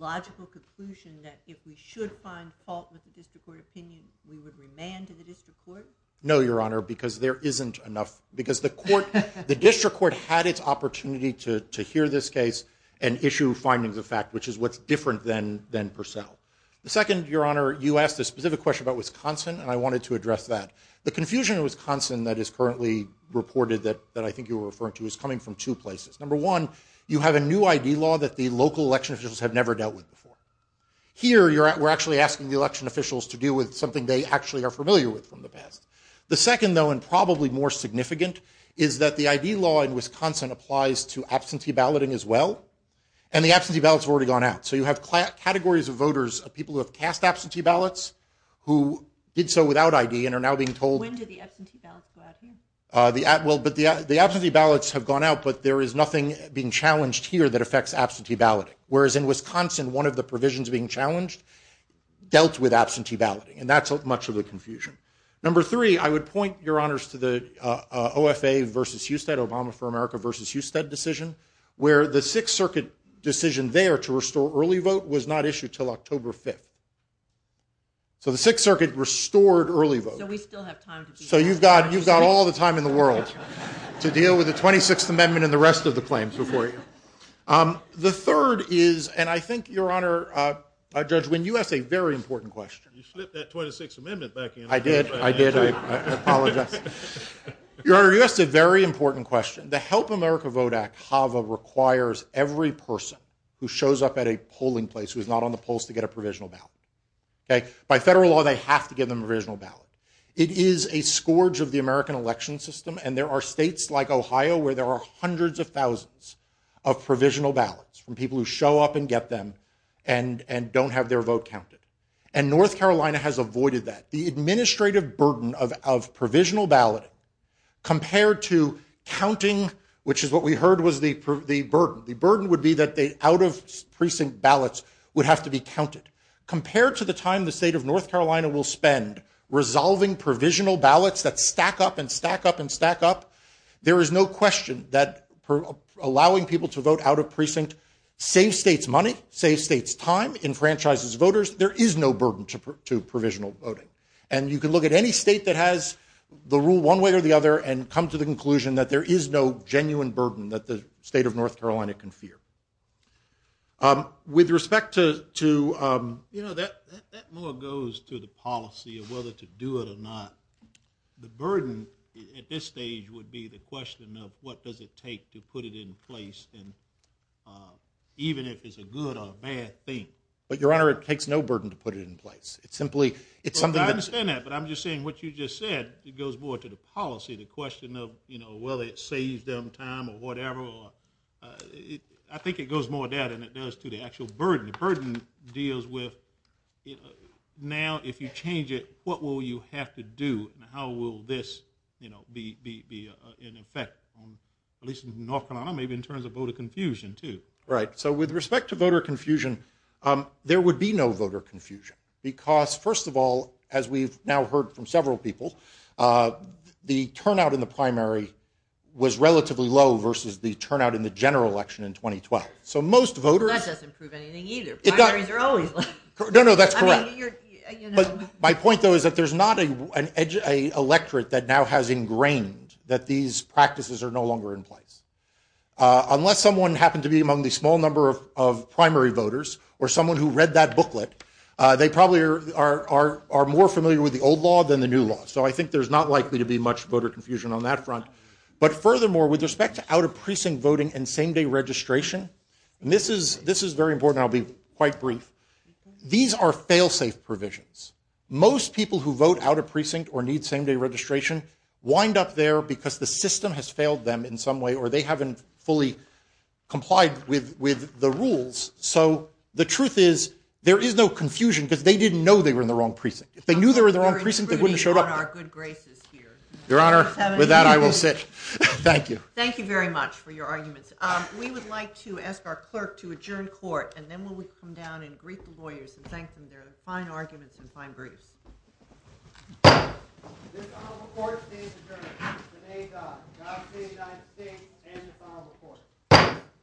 logical conclusion that if we should find fault with the District Court opinion, we would remand to the District Court? No, Your Honor, because there isn't enough... Because the District Court had its opportunity to hear this case and issue findings of fact, which is what's different than Purcell. The second, Your Honor, you asked a specific question about Wisconsin, and I wanted to address that. The confusion in Wisconsin that is currently reported that I think you were referring to is coming from two places. Number one, you have a new ID law that the local election officials have never dealt with before. Here, we're actually asking the election officials to deal with something they actually are familiar with from the past. The second, though, and probably more significant, is that the ID law in Wisconsin applies to absentee balloting as well, and the absentee ballots have already gone out. So you have categories of voters, people who have cast absentee ballots, who did so without ID and are now being told... When did the absentee ballots go out again? The absentee ballots have gone out, but there is nothing being challenged here that affects absentee balloting. Whereas in Wisconsin, one of the provisions being challenged dealt with absentee balloting, and that's much of the confusion. Number three, I would point, Your Honors, to the OFA v. Husted, Obama for America v. Husted decision, where the Sixth Circuit decision there to restore early vote was not issued until October 5th. So the Sixth Circuit restored early vote. So you've got all the time in the world to deal with the 26th Amendment and the rest of the claims before you. The third is, and I think, Your Honor, Judge Wynne, you asked a very important question. You slipped that 26th Amendment back in. I did, I did. I apologize. Your Honor, you asked a very important question. The Help America Vote Act, HAVA, requires every person who shows up at a polling place who's not on the polls to get a provisional ballot. By federal law, they have to get a provisional ballot. It is a scourge of the American election system, and there are states like Ohio where there are hundreds of thousands of provisional ballots from people who show up and get them and don't have their vote counted. And North Carolina has avoided that. The administrative burden of provisional ballot compared to counting, which is what we heard was the burden. The burden would be that the out-of- precinct ballots would have to be counted. Compared to the time the state of North Carolina will spend resolving provisional ballots that stack up and stack up and stack up, there is no question that allowing people to vote out-of-precinct saves states money, saves states time, enfranchises voters. There is no burden to provisional voting. And you can look at any state that has the rule one way or the other and come to the conclusion that there is no genuine burden that the state of North Carolina can fear. With respect to... You know, that more goes to the policy of whether to do it or not. The burden at this stage would be the question of what does it take to put it in place even if it's a good or bad thing. But Your Honor, it takes no burden to put it in place. It's simply... I'm not saying that, but I'm just saying what you just said, it goes more to the policy, the question of whether it saves them time or whatever. I think it goes more that than it does to the actual burden. The burden deals with now if you change it, what will you have to do and how will this be in effect, at least in North Carolina, maybe in terms of voter confusion too. Right. So with respect to voter confusion, there would be no voter confusion because, first of all, as we've now heard from several people, the turnout in the primary was relatively low versus the turnout in the general election in 2012. That doesn't prove anything either. I mean, they're always low. No, no, that's correct. My point though is that there's not an electorate that now has ingrained that these practices are no longer in place. Unless someone happens to be among the small number of primary voters or someone who read that booklet, they probably are more familiar with the old law than the new law. So I think there's not likely to be much voter confusion on that front. But furthermore, with respect to out-of-precinct voting and same-day registration, this is very important. I'll be quite brief. These are people who vote out-of-precinct or need same-day registration wind up there because the system has failed them in some way or they haven't fully complied with the rules. So the truth is there is no confusion because they didn't know they were in the wrong precinct. If they knew they were in the wrong precinct, they wouldn't have showed up. Your Honor, with that I will sit. Thank you. Thank you very much for your arguments. We would like to ask our clerk to adjourn court and then we will come down and brief the lawyers and thank them. There are fine arguments and fine briefs.